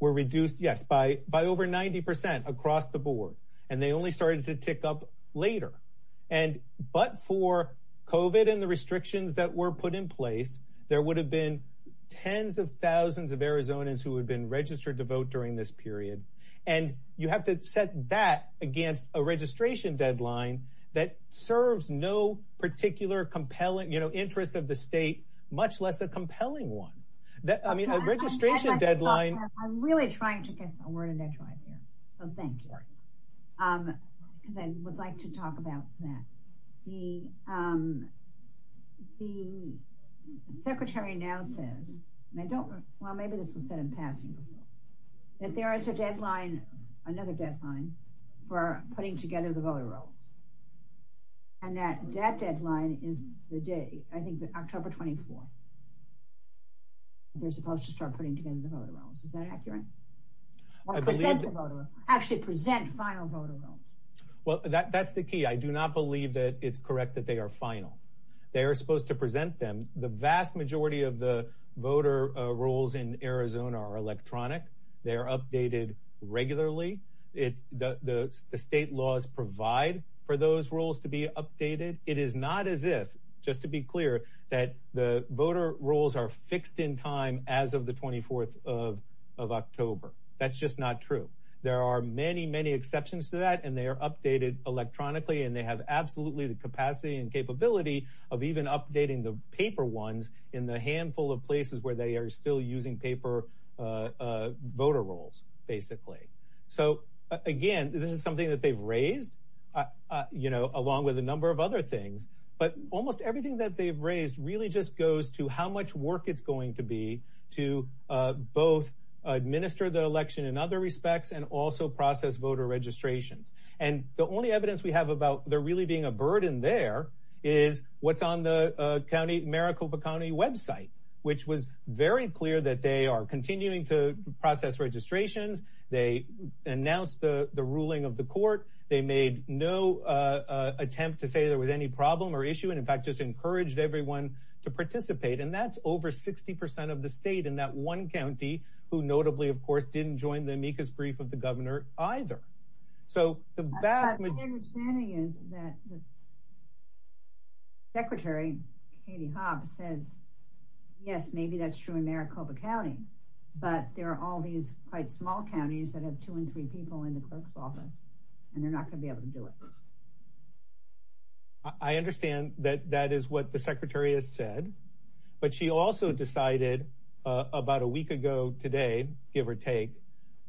were reduced by over 90% across the board. And they only started to tick up later. And, but for COVID and the restrictions that were put in place, there would have been tens of thousands of Arizonans who had been registered to vote during this period. And you have to set that against a registration deadline that serves no particular compelling, you know, interest of the state, much less a compelling one. I mean, a registration deadline. I'm really trying to get a word of that right here. So thank you. And then we'd like to talk about that. The secretary now said, and I don't, well, maybe this was said in passing, that there is a deadline, another deadline for putting together the voter roll. And that deadline is today, I think October 24th. They're supposed to start putting together the voter rolls. Is that accurate? Or present the voter rolls. Actually present final voter rolls. Well, that's the key. I do not believe that it's correct that they are final. They are supposed to present them. The vast majority of the voter rolls in Arizona are electronic. They are updated regularly. The state laws provide for those rules to be updated. It is not as if, just to be clear, that the voter rolls are fixed in time as of the 24th of October. That's just not true. There are many, many exceptions to that, and they are updated electronically, and they have absolutely the capacity and capability of even updating the paper ones in the handful of places where they are still using paper voter rolls, basically. So again, this is something that they've raised, along with a number of other things, but almost everything that they've raised really just goes to how much work it's going to be to both administer the election in other respects and also process voter registration. And the only evidence we have about there really being a burden there is what's on the county Maricopa County website, which was very clear that they are continuing to process registrations. They announced the ruling of the court. They made no attempt to say there was any problem or issue and, in fact, just encouraged everyone to participate, and that's over 60% of the state in that one county, who notably, of course, didn't join the amicus brief with the governor either. So the vast majority- Yes, maybe that's true in Maricopa County, but there are all these quite small counties that have two and three people in the close office, and they're not going to be able to do it. I understand that that is what the secretary has said, but she also decided about a week ago today, give or take,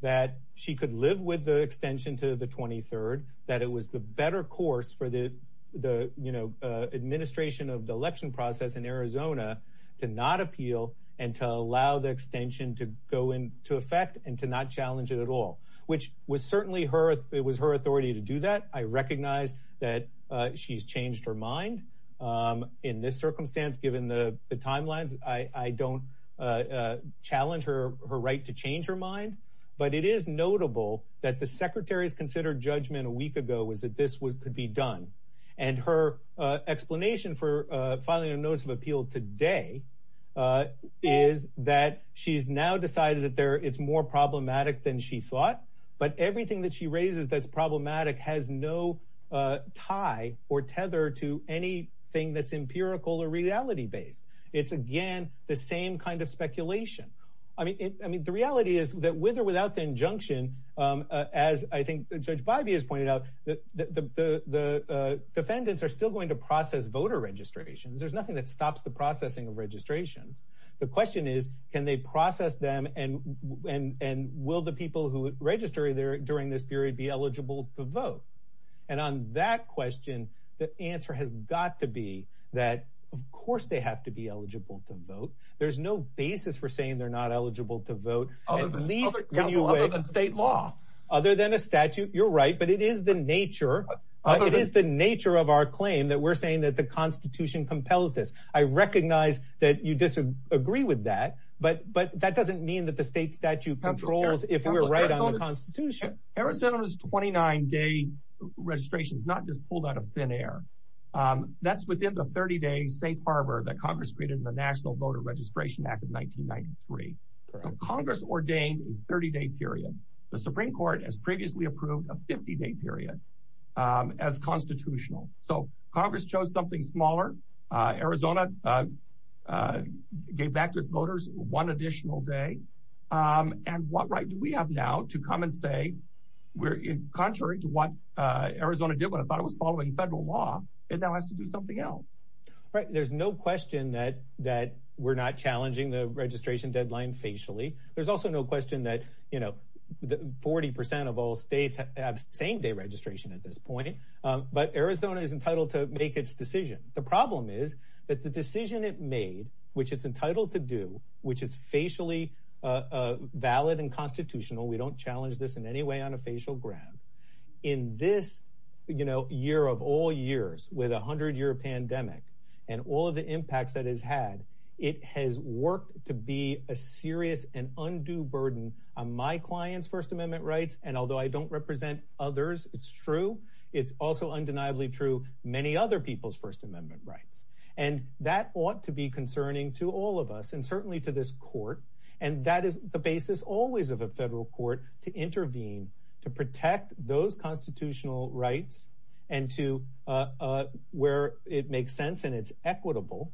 that she could live with the extension to the 23rd, that it was the better course for the administration of the election process in Arizona to not appeal and to allow the extension to go into effect and to not challenge it at all, which it was her authority to do that. I recognize that she's changed her mind. In this circumstance, given the timelines, I don't challenge her right to change her mind, but it is notable that the secretary's considered judgment a week ago was that this could be done, and her explanation for filing a notice of appeal today is that she's now decided that it's more problematic than she thought, but everything that she raises that's problematic has no tie or tether to anything that's empirical or reality-based. It's, again, the same kind of speculation. I mean, the reality is that with or without the injunction, as I think Judge Bivey has pointed out, the defendants are still going to process voter registration. There's nothing that stops the processing of registration. The question is, can they process them, and will the people who register during this period be eligible to vote? And on that question, the answer has got to be that, of course, they have to be eligible to vote. There's no basis for saying they're not eligible to vote. At least, when you wait- Other than state law. Other than a statute, you're right, but it is the nature of our claim that we're saying that the Constitution compels this. I recognize that you disagree with that, but that doesn't mean that the state statute controls if we're right on the Constitution. Arizona's 29-day registration is not just pulled out of thin air. That's within the 30-day state barber that Congress created in the National Voter Registration Act of 1993. Congress ordained a 30-day period. The Supreme Court has previously approved a 50-day period as constitutional. So, Congress chose something smaller. Arizona gave back to its voters one additional day. And what right do we have now to come and say, contrary to what Arizona did when it thought it was following federal law, it now has to do something else? Right, there's no question that we're not challenging the registration deadline facially. There's also no question that 40% of all states have same-day registration at this point, but Arizona is entitled to make its decision. The problem is that the decision it made, which it's entitled to do, which is facially valid and constitutional, we don't challenge this in any way on a facial ground, in this year of all years with a 100-year pandemic and all of the impacts that it's had, it has worked to be a serious and undue burden on my client's First Amendment rights. And although I don't represent others, it's true. It's also undeniably true many other people's First Amendment rights. And that ought to be concerning to all of us and certainly to this court. And that is the basis always of a federal court to intervene, to protect those constitutional rights and to where it makes sense and it's equitable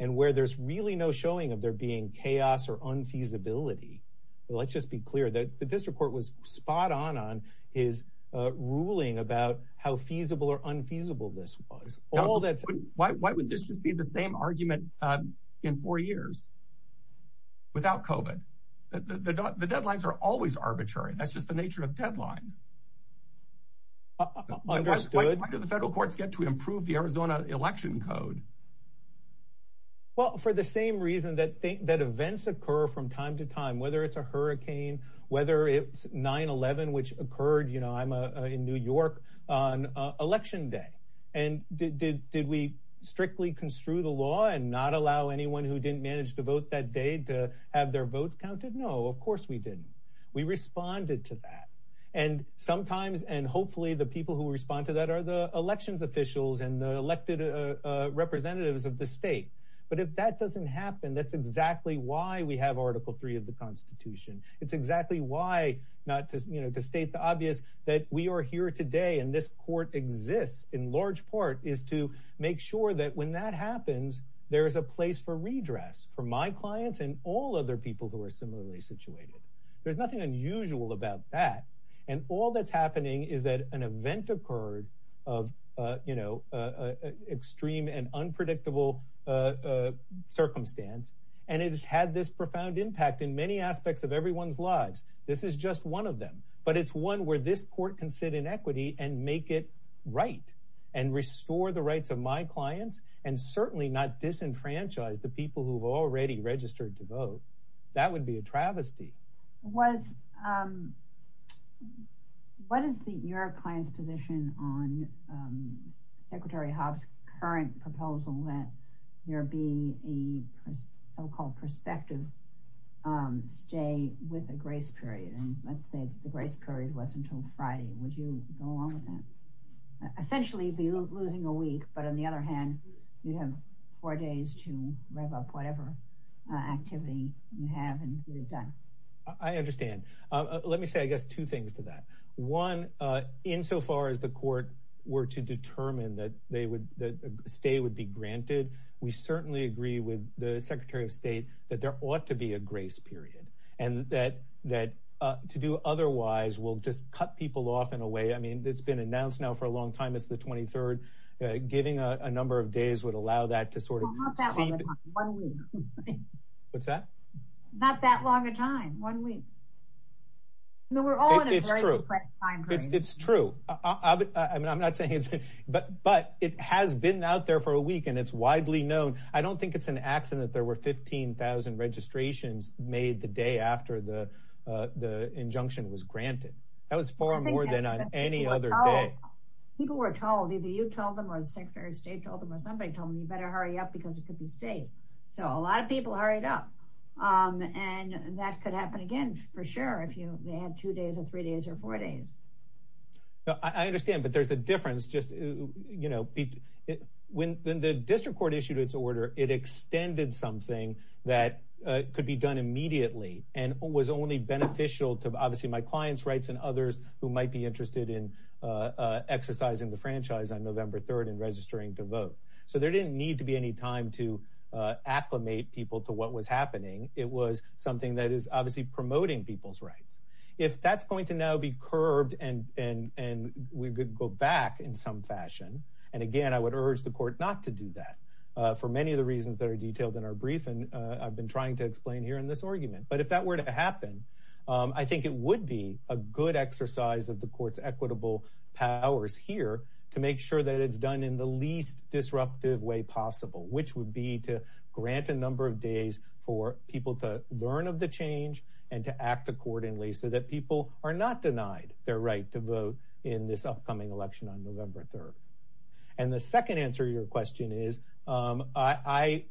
and where there's really no showing of there being chaos or unfeasibility. So let's just be clear that the district court was spot on on his ruling about how feasible or unfeasible this was. All that- Why would this be the same argument in four years without COVID? The deadlines are always arbitrary. That's just the nature of deadlines. Understood. Why do the federal courts get to improve the Arizona election code? Well, for the same reason that events occur from time to time, whether it's a hurricane, whether it's 9-11, which occurred, I'm in New York on election day. And did we strictly construe the law and not allow anyone who didn't manage to vote that day to have their vote counted? No, of course we didn't. We responded to that. And sometimes, and hopefully the people who respond to that are the elections officials and the elected representatives of the state. But if that doesn't happen, that's exactly why we have Article III of the Constitution. It's exactly why, not to state the obvious, that we are here today and this court exists in large part is to make sure that when that happens, there is a place for redress for my clients and all other people who are similarly situated. There's nothing unusual about that. And all that's happening is that an event occurred extreme and unpredictable circumstance, and it has had this profound impact in many aspects of everyone's lives. This is just one of them, but it's one where this court can sit in equity and make it right and restore the rights of my clients and certainly not disenfranchise the people who've already registered to vote. That would be a travesty. What is your client's position on Secretary Hobbs' current proposal that there be a so-called prospective stay with a grace period? And let's say the grace period was until Friday. Would you go along with that? Essentially be losing a week, but on the other hand, you'd have four days to rev up whatever activity you have and get it done. I understand. Let me say, I guess, two things to that. One, insofar as the court were to determine that a stay would be granted, we certainly agree with the Secretary of State that there ought to be a grace period and that to do otherwise will just cut people off in a way. I mean, it's been announced now for a long time. It's the 23rd. Getting a number of days would allow that to sort of- Well, not that long a time, one week. What's that? Not that long a time, one week. No, we're all in a very compressed timeframe. It's true. I mean, I'm not saying it's, but it has been out there for a week and it's widely known. I don't think it's an accident that there were 15,000 registrations made the day after the injunction was granted. That was far more than on any other day. People were told, either you told them or the Secretary of State told them or somebody told them, you better hurry up because it could be safe. So a lot of people hurried up and that could happen again, for sure, if you may have two days or three days or four days. I understand, but there's a difference. When the district court issued its order, it extended something that could be done immediately and was only beneficial to, obviously, my clients' rights and others who might be interested in exercising the franchise on November 3rd and registering to vote. So there didn't need to be any time to acclimate people to what was happening. It was something that is obviously promoting people's rights. If that's going to now be curbed and we could go back in some fashion, and again, I would urge the court not to do that for many of the reasons that are detailed in our briefing, I've been trying to explain here in this argument, but if that were to happen, I think it would be a good exercise of the court's equitable powers here to make sure that it's done in the least disruptive way possible, which would be to grant a number of days for people to learn of the change and to act accordingly so that people are not denied their right to vote in this upcoming election on November 3rd. And the second answer to your question is, I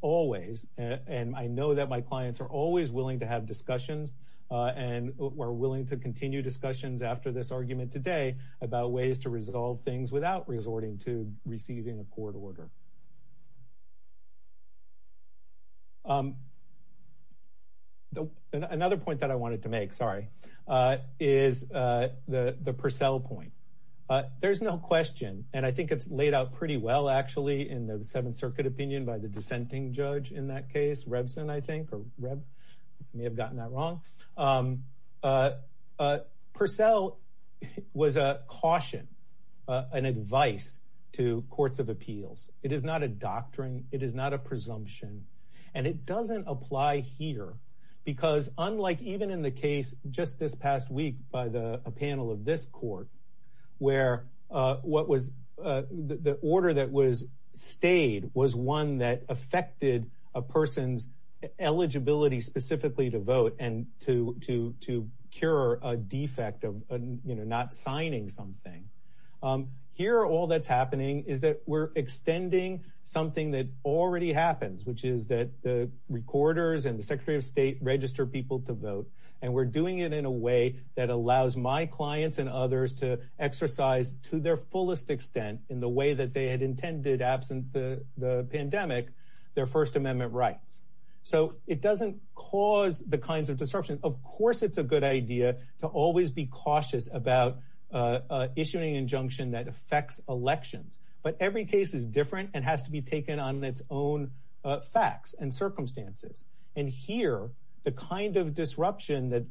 always, and I know that my clients are always willing to have discussions and are willing to continue discussions after this argument today about ways to resolve things without resorting to receiving a court order. Another point that I wanted to make, sorry, is the Purcell point. There's no question, and I think it's laid out pretty well, actually, in the Seventh Circuit opinion by the dissenting judge in that case, Rebson, I think, or Reb, may have gotten that wrong. Purcell was a caution, an advice to courts of appeals. It is not a doctrine. It is not a presumption. And it doesn't apply here because unlike even in the case just this past week by a panel of this court, was one that affected a person's eligibility specifically to vote and to cure a defect of not signing something. Here, all that's happening is that we're extending something that already happens, which is that the recorders and the Secretary of State register people to vote. And we're doing it in a way that allows my clients and others to exercise to their fullest extent in the way that they had intended absent the pandemic, their First Amendment rights. So it doesn't cause the kinds of disruption. Of course, it's a good idea to always be cautious about issuing an injunction that affects elections. But every case is different and has to be taken on its own facts and circumstances. And here, the kind of disruption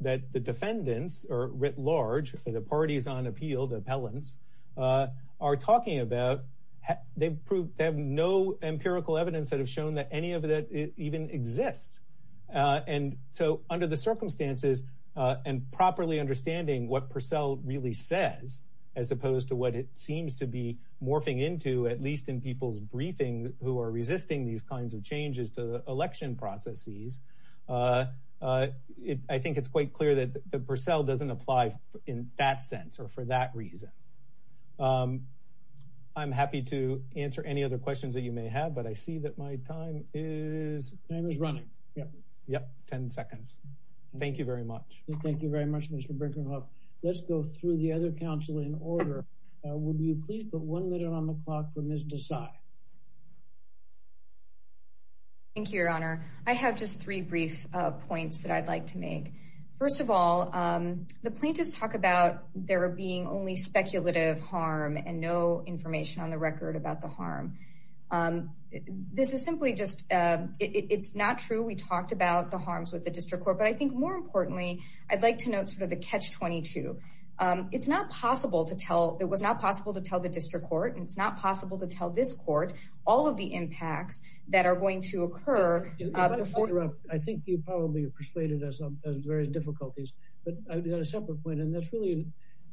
that the defendants are writ large for the parties on appeal, the appellants, are talking about, they have no empirical evidence that have shown that any of that even exists. And so under the circumstances and properly understanding what Purcell really says, as opposed to what it seems to be morphing into, at least in people's briefings who are resisting these kinds of changes to the election processes, I think it's quite clear that Purcell doesn't apply in that sense or for that reason. I'm happy to answer any other questions that you may have, but I see that my time is running. Yep, yep, 10 seconds. Thank you very much. Thank you very much, Mr. Brinkman. Let's go through the other counsel in order. Would you please put one minute on the clock for Ms. Desai? Thank you, Your Honor. I have just three brief points that I'd like to make. First of all, the plaintiffs talk about there being only speculative harm and no information on the record about the harm. This is simply just, it's not true. We talked about the harms with the district court, but I think more importantly, I'd like to note sort of the catch-22. It's not possible to tell, it was not possible to tell the district court, and it's not possible to tell this court all of the impacts that are going to occur. I think you probably persuaded us of various difficulties, but I've got a separate point, and that's really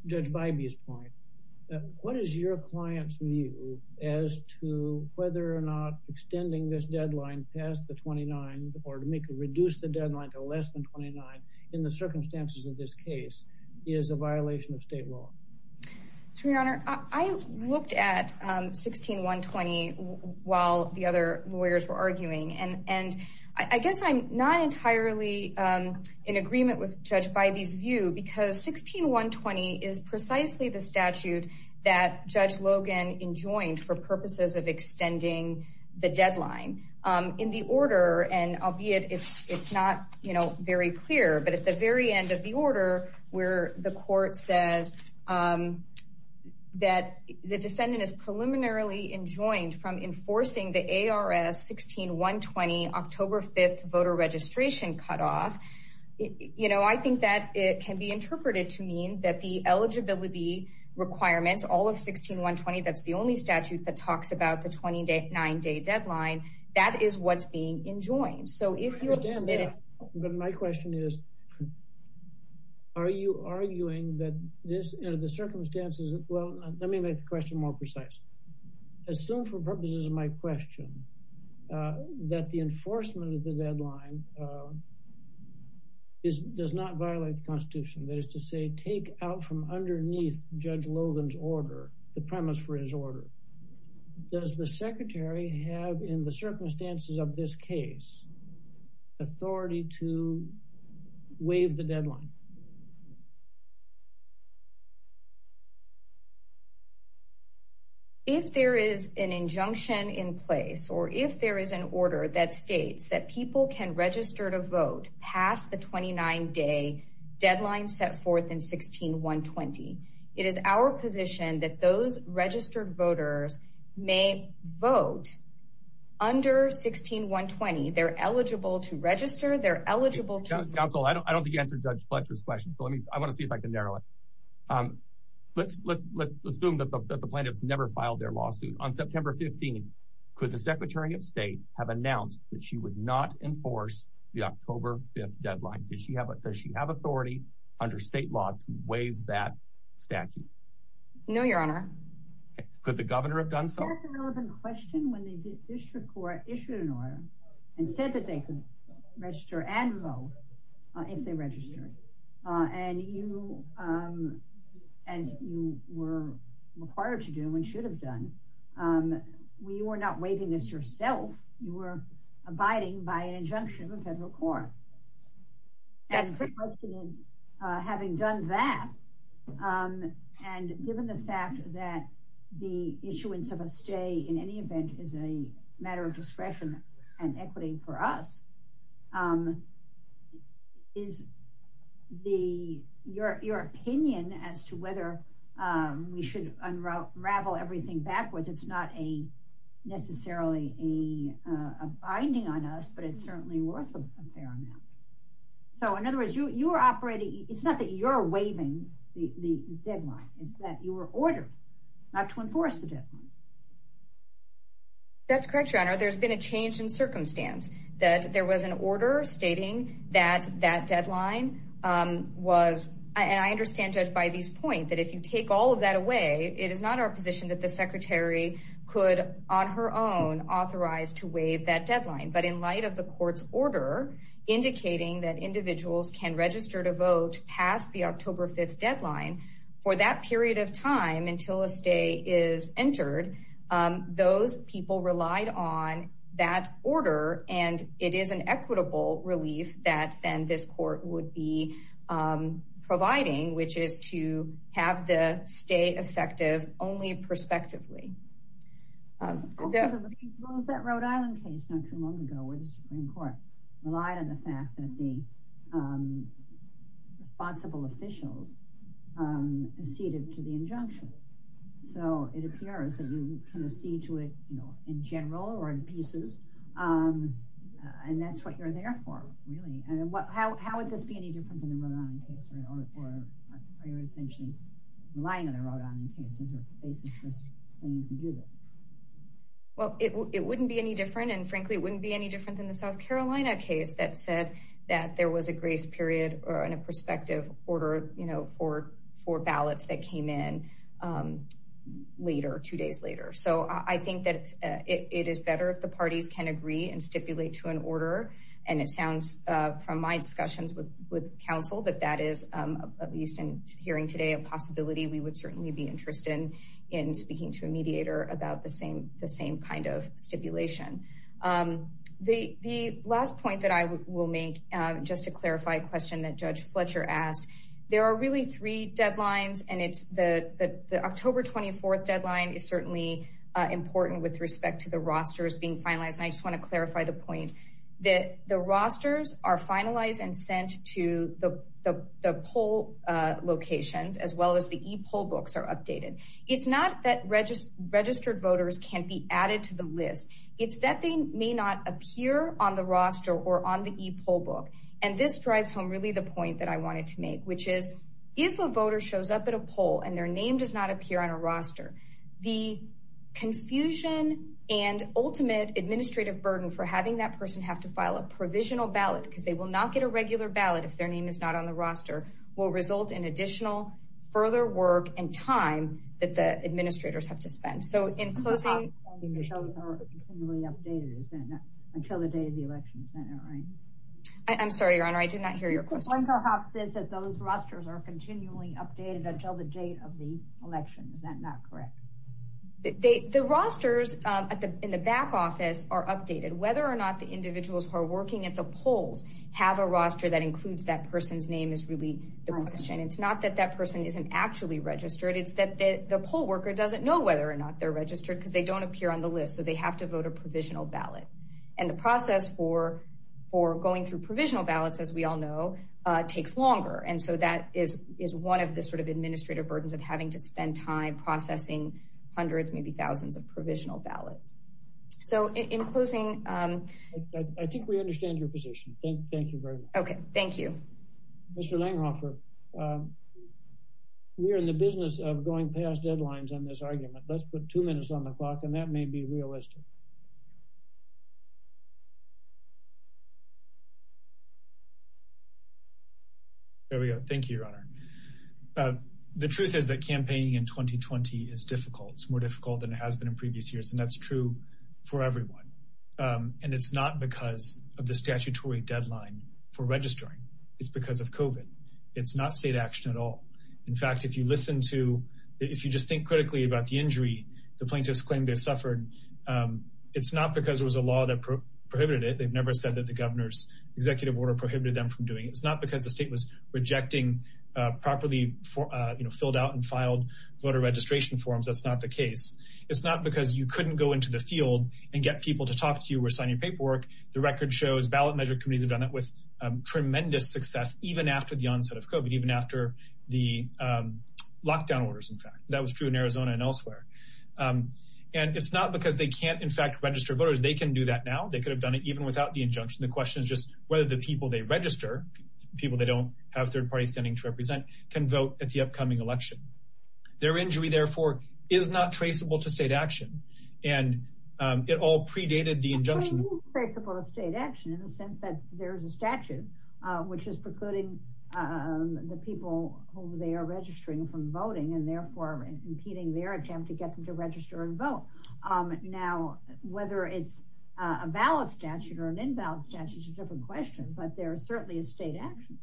Judge Bybee's point. What is your client's view as to whether or not extending this deadline past the 29th or to reduce the deadline to less than 29th in the circumstances of this case is a violation of state law? Your Honor, I looked at 16120 while the other lawyers were arguing, and I guess I'm not entirely in agreement with Judge Bybee's view because 16120 is precisely the statute that Judge Logan enjoined for purposes of extending the deadline. In the order, and albeit it's not very clear, but at the very end of the order, where the court says that the descendant is preliminarily enjoined from enforcing the ARF 16120 October 5th voter registration cutoff, I think that it can be interpreted to mean that the eligibility requirement, all of 16120, that's the only statute that talks about the 29-day deadline, that is what's being enjoined. So if you admit it- But my question is, are you arguing that this, the circumstances, well, let me make the question more precise. Assume for purposes of my question that the enforcement of the deadline does not violate the Constitution, that is to say, take out from underneath Judge Logan's order, the premise for his order, does the secretary have, in the circumstances of this case, authority to waive the deadline? If there is an injunction in place, or if there is an order that states that people can register to vote past the 29-day deadline set forth in 16120, it is our position that those registered voters may vote under 16120, they're eligible to register, they're eligible to- Counsel, I don't think you answered Judge Fletcher's question, so let me, I wanna see if I can narrow it. Let's assume that the plaintiffs never filed their lawsuit. On September 15th, could the Secretary of State have announced that she would not enforce the October 5th deadline? Does she have authority under state law to waive that statute? No, Your Honor. Could the governor have done so? I asked a relevant question when the district court issued an order and said that they could register and vote if they registered, and you were required to do and should have done. We were not waiving this yourself, you were abiding by an injunction of the federal court. And having done that, and given the fact that the issuance of a stay in any event is a matter of discretion and equity for us, is your opinion as to whether we should unravel everything backwards, because it's not necessarily a binding on us, but it certainly was a fair amount. So in other words, you were operating, it's not that you're waiving the deadline, it's that you were ordered not to enforce the deadline. That's correct, Your Honor. There's been a change in circumstance that there was an order stating that that deadline was, and I understand, Judge, by these points, that if you take all of that away, it is not our position that the Secretary could, on her own, authorize to waive that deadline. But in light of the court's order indicating that individuals can register to vote past the October 5th deadline, for that period of time until a stay is entered, those people relied on that order, and it is an equitable release that then this court would be providing, which is to have the stay effective only prospectively. Yeah. What was that Rhode Island case not too long ago where the Supreme Court relied on the fact that the responsible officials proceeded to the injunction? So it appears that you can proceed to it in general or in pieces, and that's what you're there for, really. And how would this be any different than the Rhode Island case where all four prior extensions relying on the Rhode Island case as opposed to saying you can do that? Well, it wouldn't be any different, and frankly, it wouldn't be any different than the South Carolina case that said that there was a grace period or a prospective order for ballots that came in later, two days later. So I think that it is better if the parties can agree and stipulate to an order, and it sounds, from my discussions with counsel, that that is, at least in hearing today, a possibility we would certainly be interested in speaking to a mediator about the same kind of stipulation. The last point that I will make, just to clarify a question that Judge Fletcher asked, there are really three deadlines, and the October 24th deadline is certainly important with respect to the rosters being finalized, and I just wanna clarify the point that the rosters are finalized and sent to the poll locations as well as the e-poll books are updated. It's not that registered voters can't be added to the list. It's that they may not appear on the roster or on the e-poll book, and this drives home really the point that I wanted to make, which is if a voter shows up at a poll and their name does not appear on a roster, the confusion and ultimate administrative burden for having that person have to file a provisional ballot because they will not get a regular ballot if their name is not on the roster will result in additional further work and time that the administrators have to spend. So in closing- The rosters are continually updated, is that not? Until the date of the election, is that not right? I'm sorry, Your Honor, I did not hear your question. One perhaps says that those rosters are continually updated until the date of the election. Is that not correct? The rosters in the back office are updated. The question is whether or not the individuals who are working at the polls have a roster that includes that person's name is really the question. It's not that that person isn't actually registered. It's that the poll worker doesn't know whether or not they're registered because they don't appear on the list. So they have to vote a provisional ballot. And the process for going through provisional ballots, as we all know, takes longer. And so that is one of the sort of administrative burdens of having to spend time processing hundreds, maybe thousands of provisional ballots. So in closing- I think we understand your position. Thank you very much. Okay, thank you. Mr. Langhofer, we're in the business of going past deadlines on this argument. Let's put two minutes on the clock, and that may be realistic. There we go, thank you, Your Honor. The truth is that campaigning in 2020 is difficult. It's more difficult than it has been in previous years, and that's true for everyone. And it's not because of the statutory deadline for registering. It's because of COVID. It's not state action at all. In fact, if you listen to- if you just think critically about the injury the plaintiffs claim they've suffered, it's not because there was a law that prohibited it. They've never said that the governor's executive order prohibited them from doing it. It's not because the state was rejecting property filled out and filed voter registration forms. That's not the case. It's not because you couldn't go into the field and get people to talk to you or sign your paperwork. The record shows ballot measure committees have done it with tremendous success, even after the onset of COVID, even after the lockdown orders, in fact. That was true in Arizona and elsewhere. And it's not because they can't, in fact, register voters. They can do that now. They could have done it even without the injunction. The question is just whether the people they register, people they don't have third parties standing to represent, can vote at the upcoming election. Their injury, therefore, is not traceable to state action. And it all predated the injunction. It's not traceable to state action in the sense that there's a statute which is precluding the people whom they are registering from voting and therefore impeding their attempt to get them to register and vote. Now, whether it's a ballot statute or an in-ballot statute is a different question, but there is certainly a state action.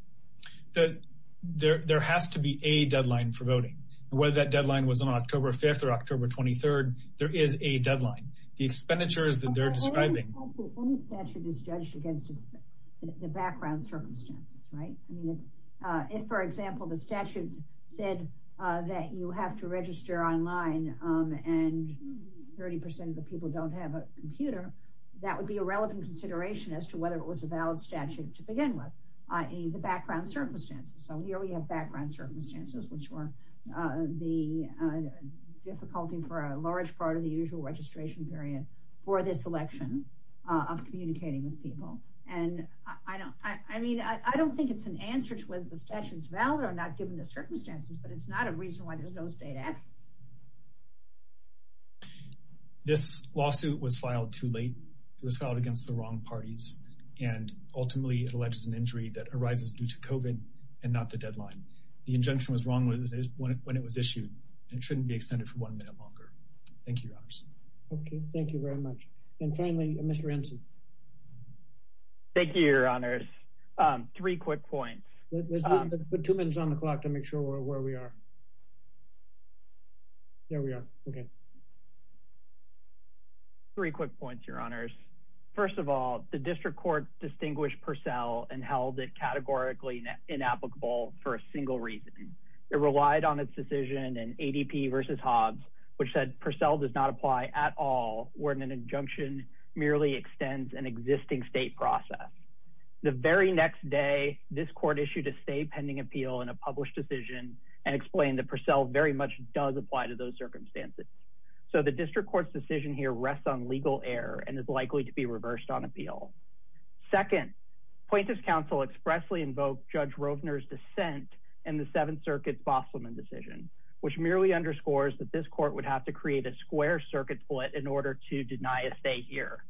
But there has to be a deadline for voting. Whether that deadline was on October 5th or October 23rd, there is a deadline. The expenditures that they're describing- Only the statute is judged against the background circumstances, right? I mean, if, for example, the statute said that you have to register online and 30% of the people don't have a computer, that would be a relevant consideration as to whether it was a valid statute to begin with, the background circumstances. So here we have background circumstances, which were the difficulty for a large part of the usual registration period for this election of communicating with people. And I mean, I don't think it's an answer to whether the statutes are valid or not given the circumstances, but it's not a reason why there's no state action. This lawsuit was filed too late. It was filed against the wrong parties and ultimately it alleges an injury that arises due to COVID and not the deadline. The injunction was wrong when it was issued and shouldn't be extended for one minute longer. Thank you, your honors. Okay, thank you very much. And finally, Mr. Hanson. Thank you, your honors. Three quick points. Let's put two minutes on the clock There we are, okay. Three quick points, your honors. First of all, the district court distinguished Purcell and held it categorically inapplicable for a single reason. It relied on its decision in ADP versus Hobbs, which said Purcell does not apply at all where an injunction merely extends an existing state process. The very next day, this court issued a state pending appeal and a published decision and explained that Purcell very much does apply to those circumstances. So the district court's decision here rests on legal error and is likely to be reversed on appeal. Second, plaintiff's counsel expressly invoked Judge Rovner's dissent in the Seventh Circuit Fosselman decision, which merely underscores that this court would have to create a square circuit split in order to deny a stay here.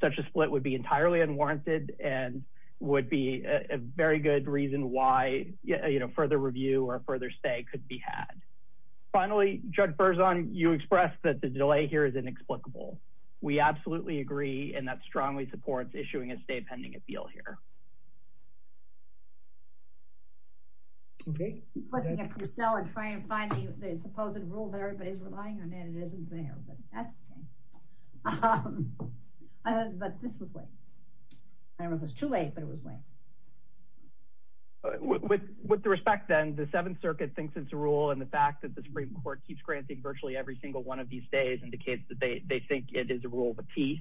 Such a split would be entirely unwarranted and would be a very good reason why, you know, further review or further stay could be had. Finally, Judge Berzon, you expressed that the delay here is inexplicable. We absolutely agree, and that strongly supports issuing a state pending appeal here. Okay. I'm putting it next to Purcell and trying to find the supposed rule that everybody's relying on, and it isn't there, but that's okay. I don't know if this was late. I don't know if it was too late, but it was late. With the respect, then, the Seventh Circuit thinks it's a rule, and the fact that the Supreme Court keeps granting virtually every single one of these stays indicates that they think it is a rule of apiece.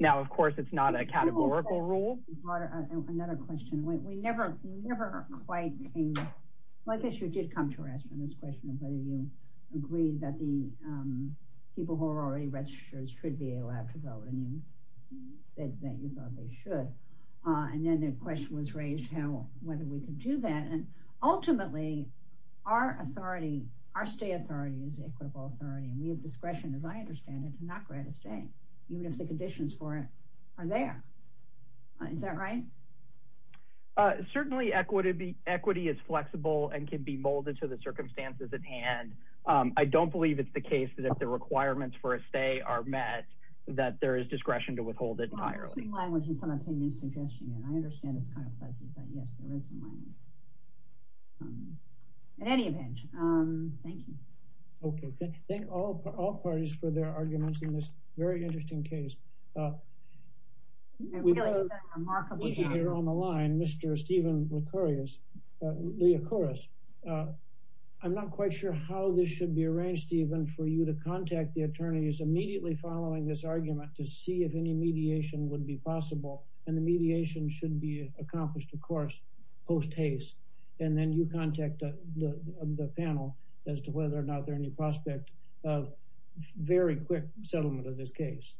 Now, of course, it's not a categorical rule. Another question. We never quite, I guess you did come to us with this question of whether you agree that the people who are already registered should be allowed to vote, and you said that you thought they should, and then the question was raised how, whether we could do that, and ultimately, our authority, our state authority is equitable authority, and we have discretion, as I understand it, to not grant a stay. Even if the conditions for it are there. Is that right? Certainly, equity is flexible and can be molded to the circumstances at hand. I don't believe it's the case that if the requirements for a stay are met, that there is discretion to withhold it entirely. I think my was just an opinion suggestion, and I understand it's kind of fuzzy, but yes, there is an opinion. At any event, thank you. Okay, thank all parties for their arguments in this very interesting case. We have a speaker on the line, Mr. Steven Licorious, of course. I'm not quite sure how this should be arranged, Steven, for you to contact the attorneys immediately following this argument to see if any mediation would be possible, and the mediation should be accomplished, of course, post haste, and then you contact the panel as to whether or not there are any prospects of very quick settlement of this case.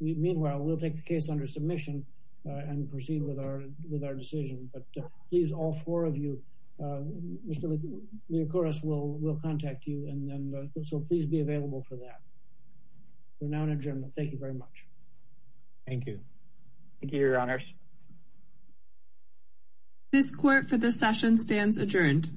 Meanwhile, we'll take the case under submission and proceed with our decision, but please, all four of you, Mr. Licorious will contact you, and then this will please be available for that. We're now in adjournment. Thank you very much. Thank you. Thank you, Your Honors. This court for this session stands adjourned.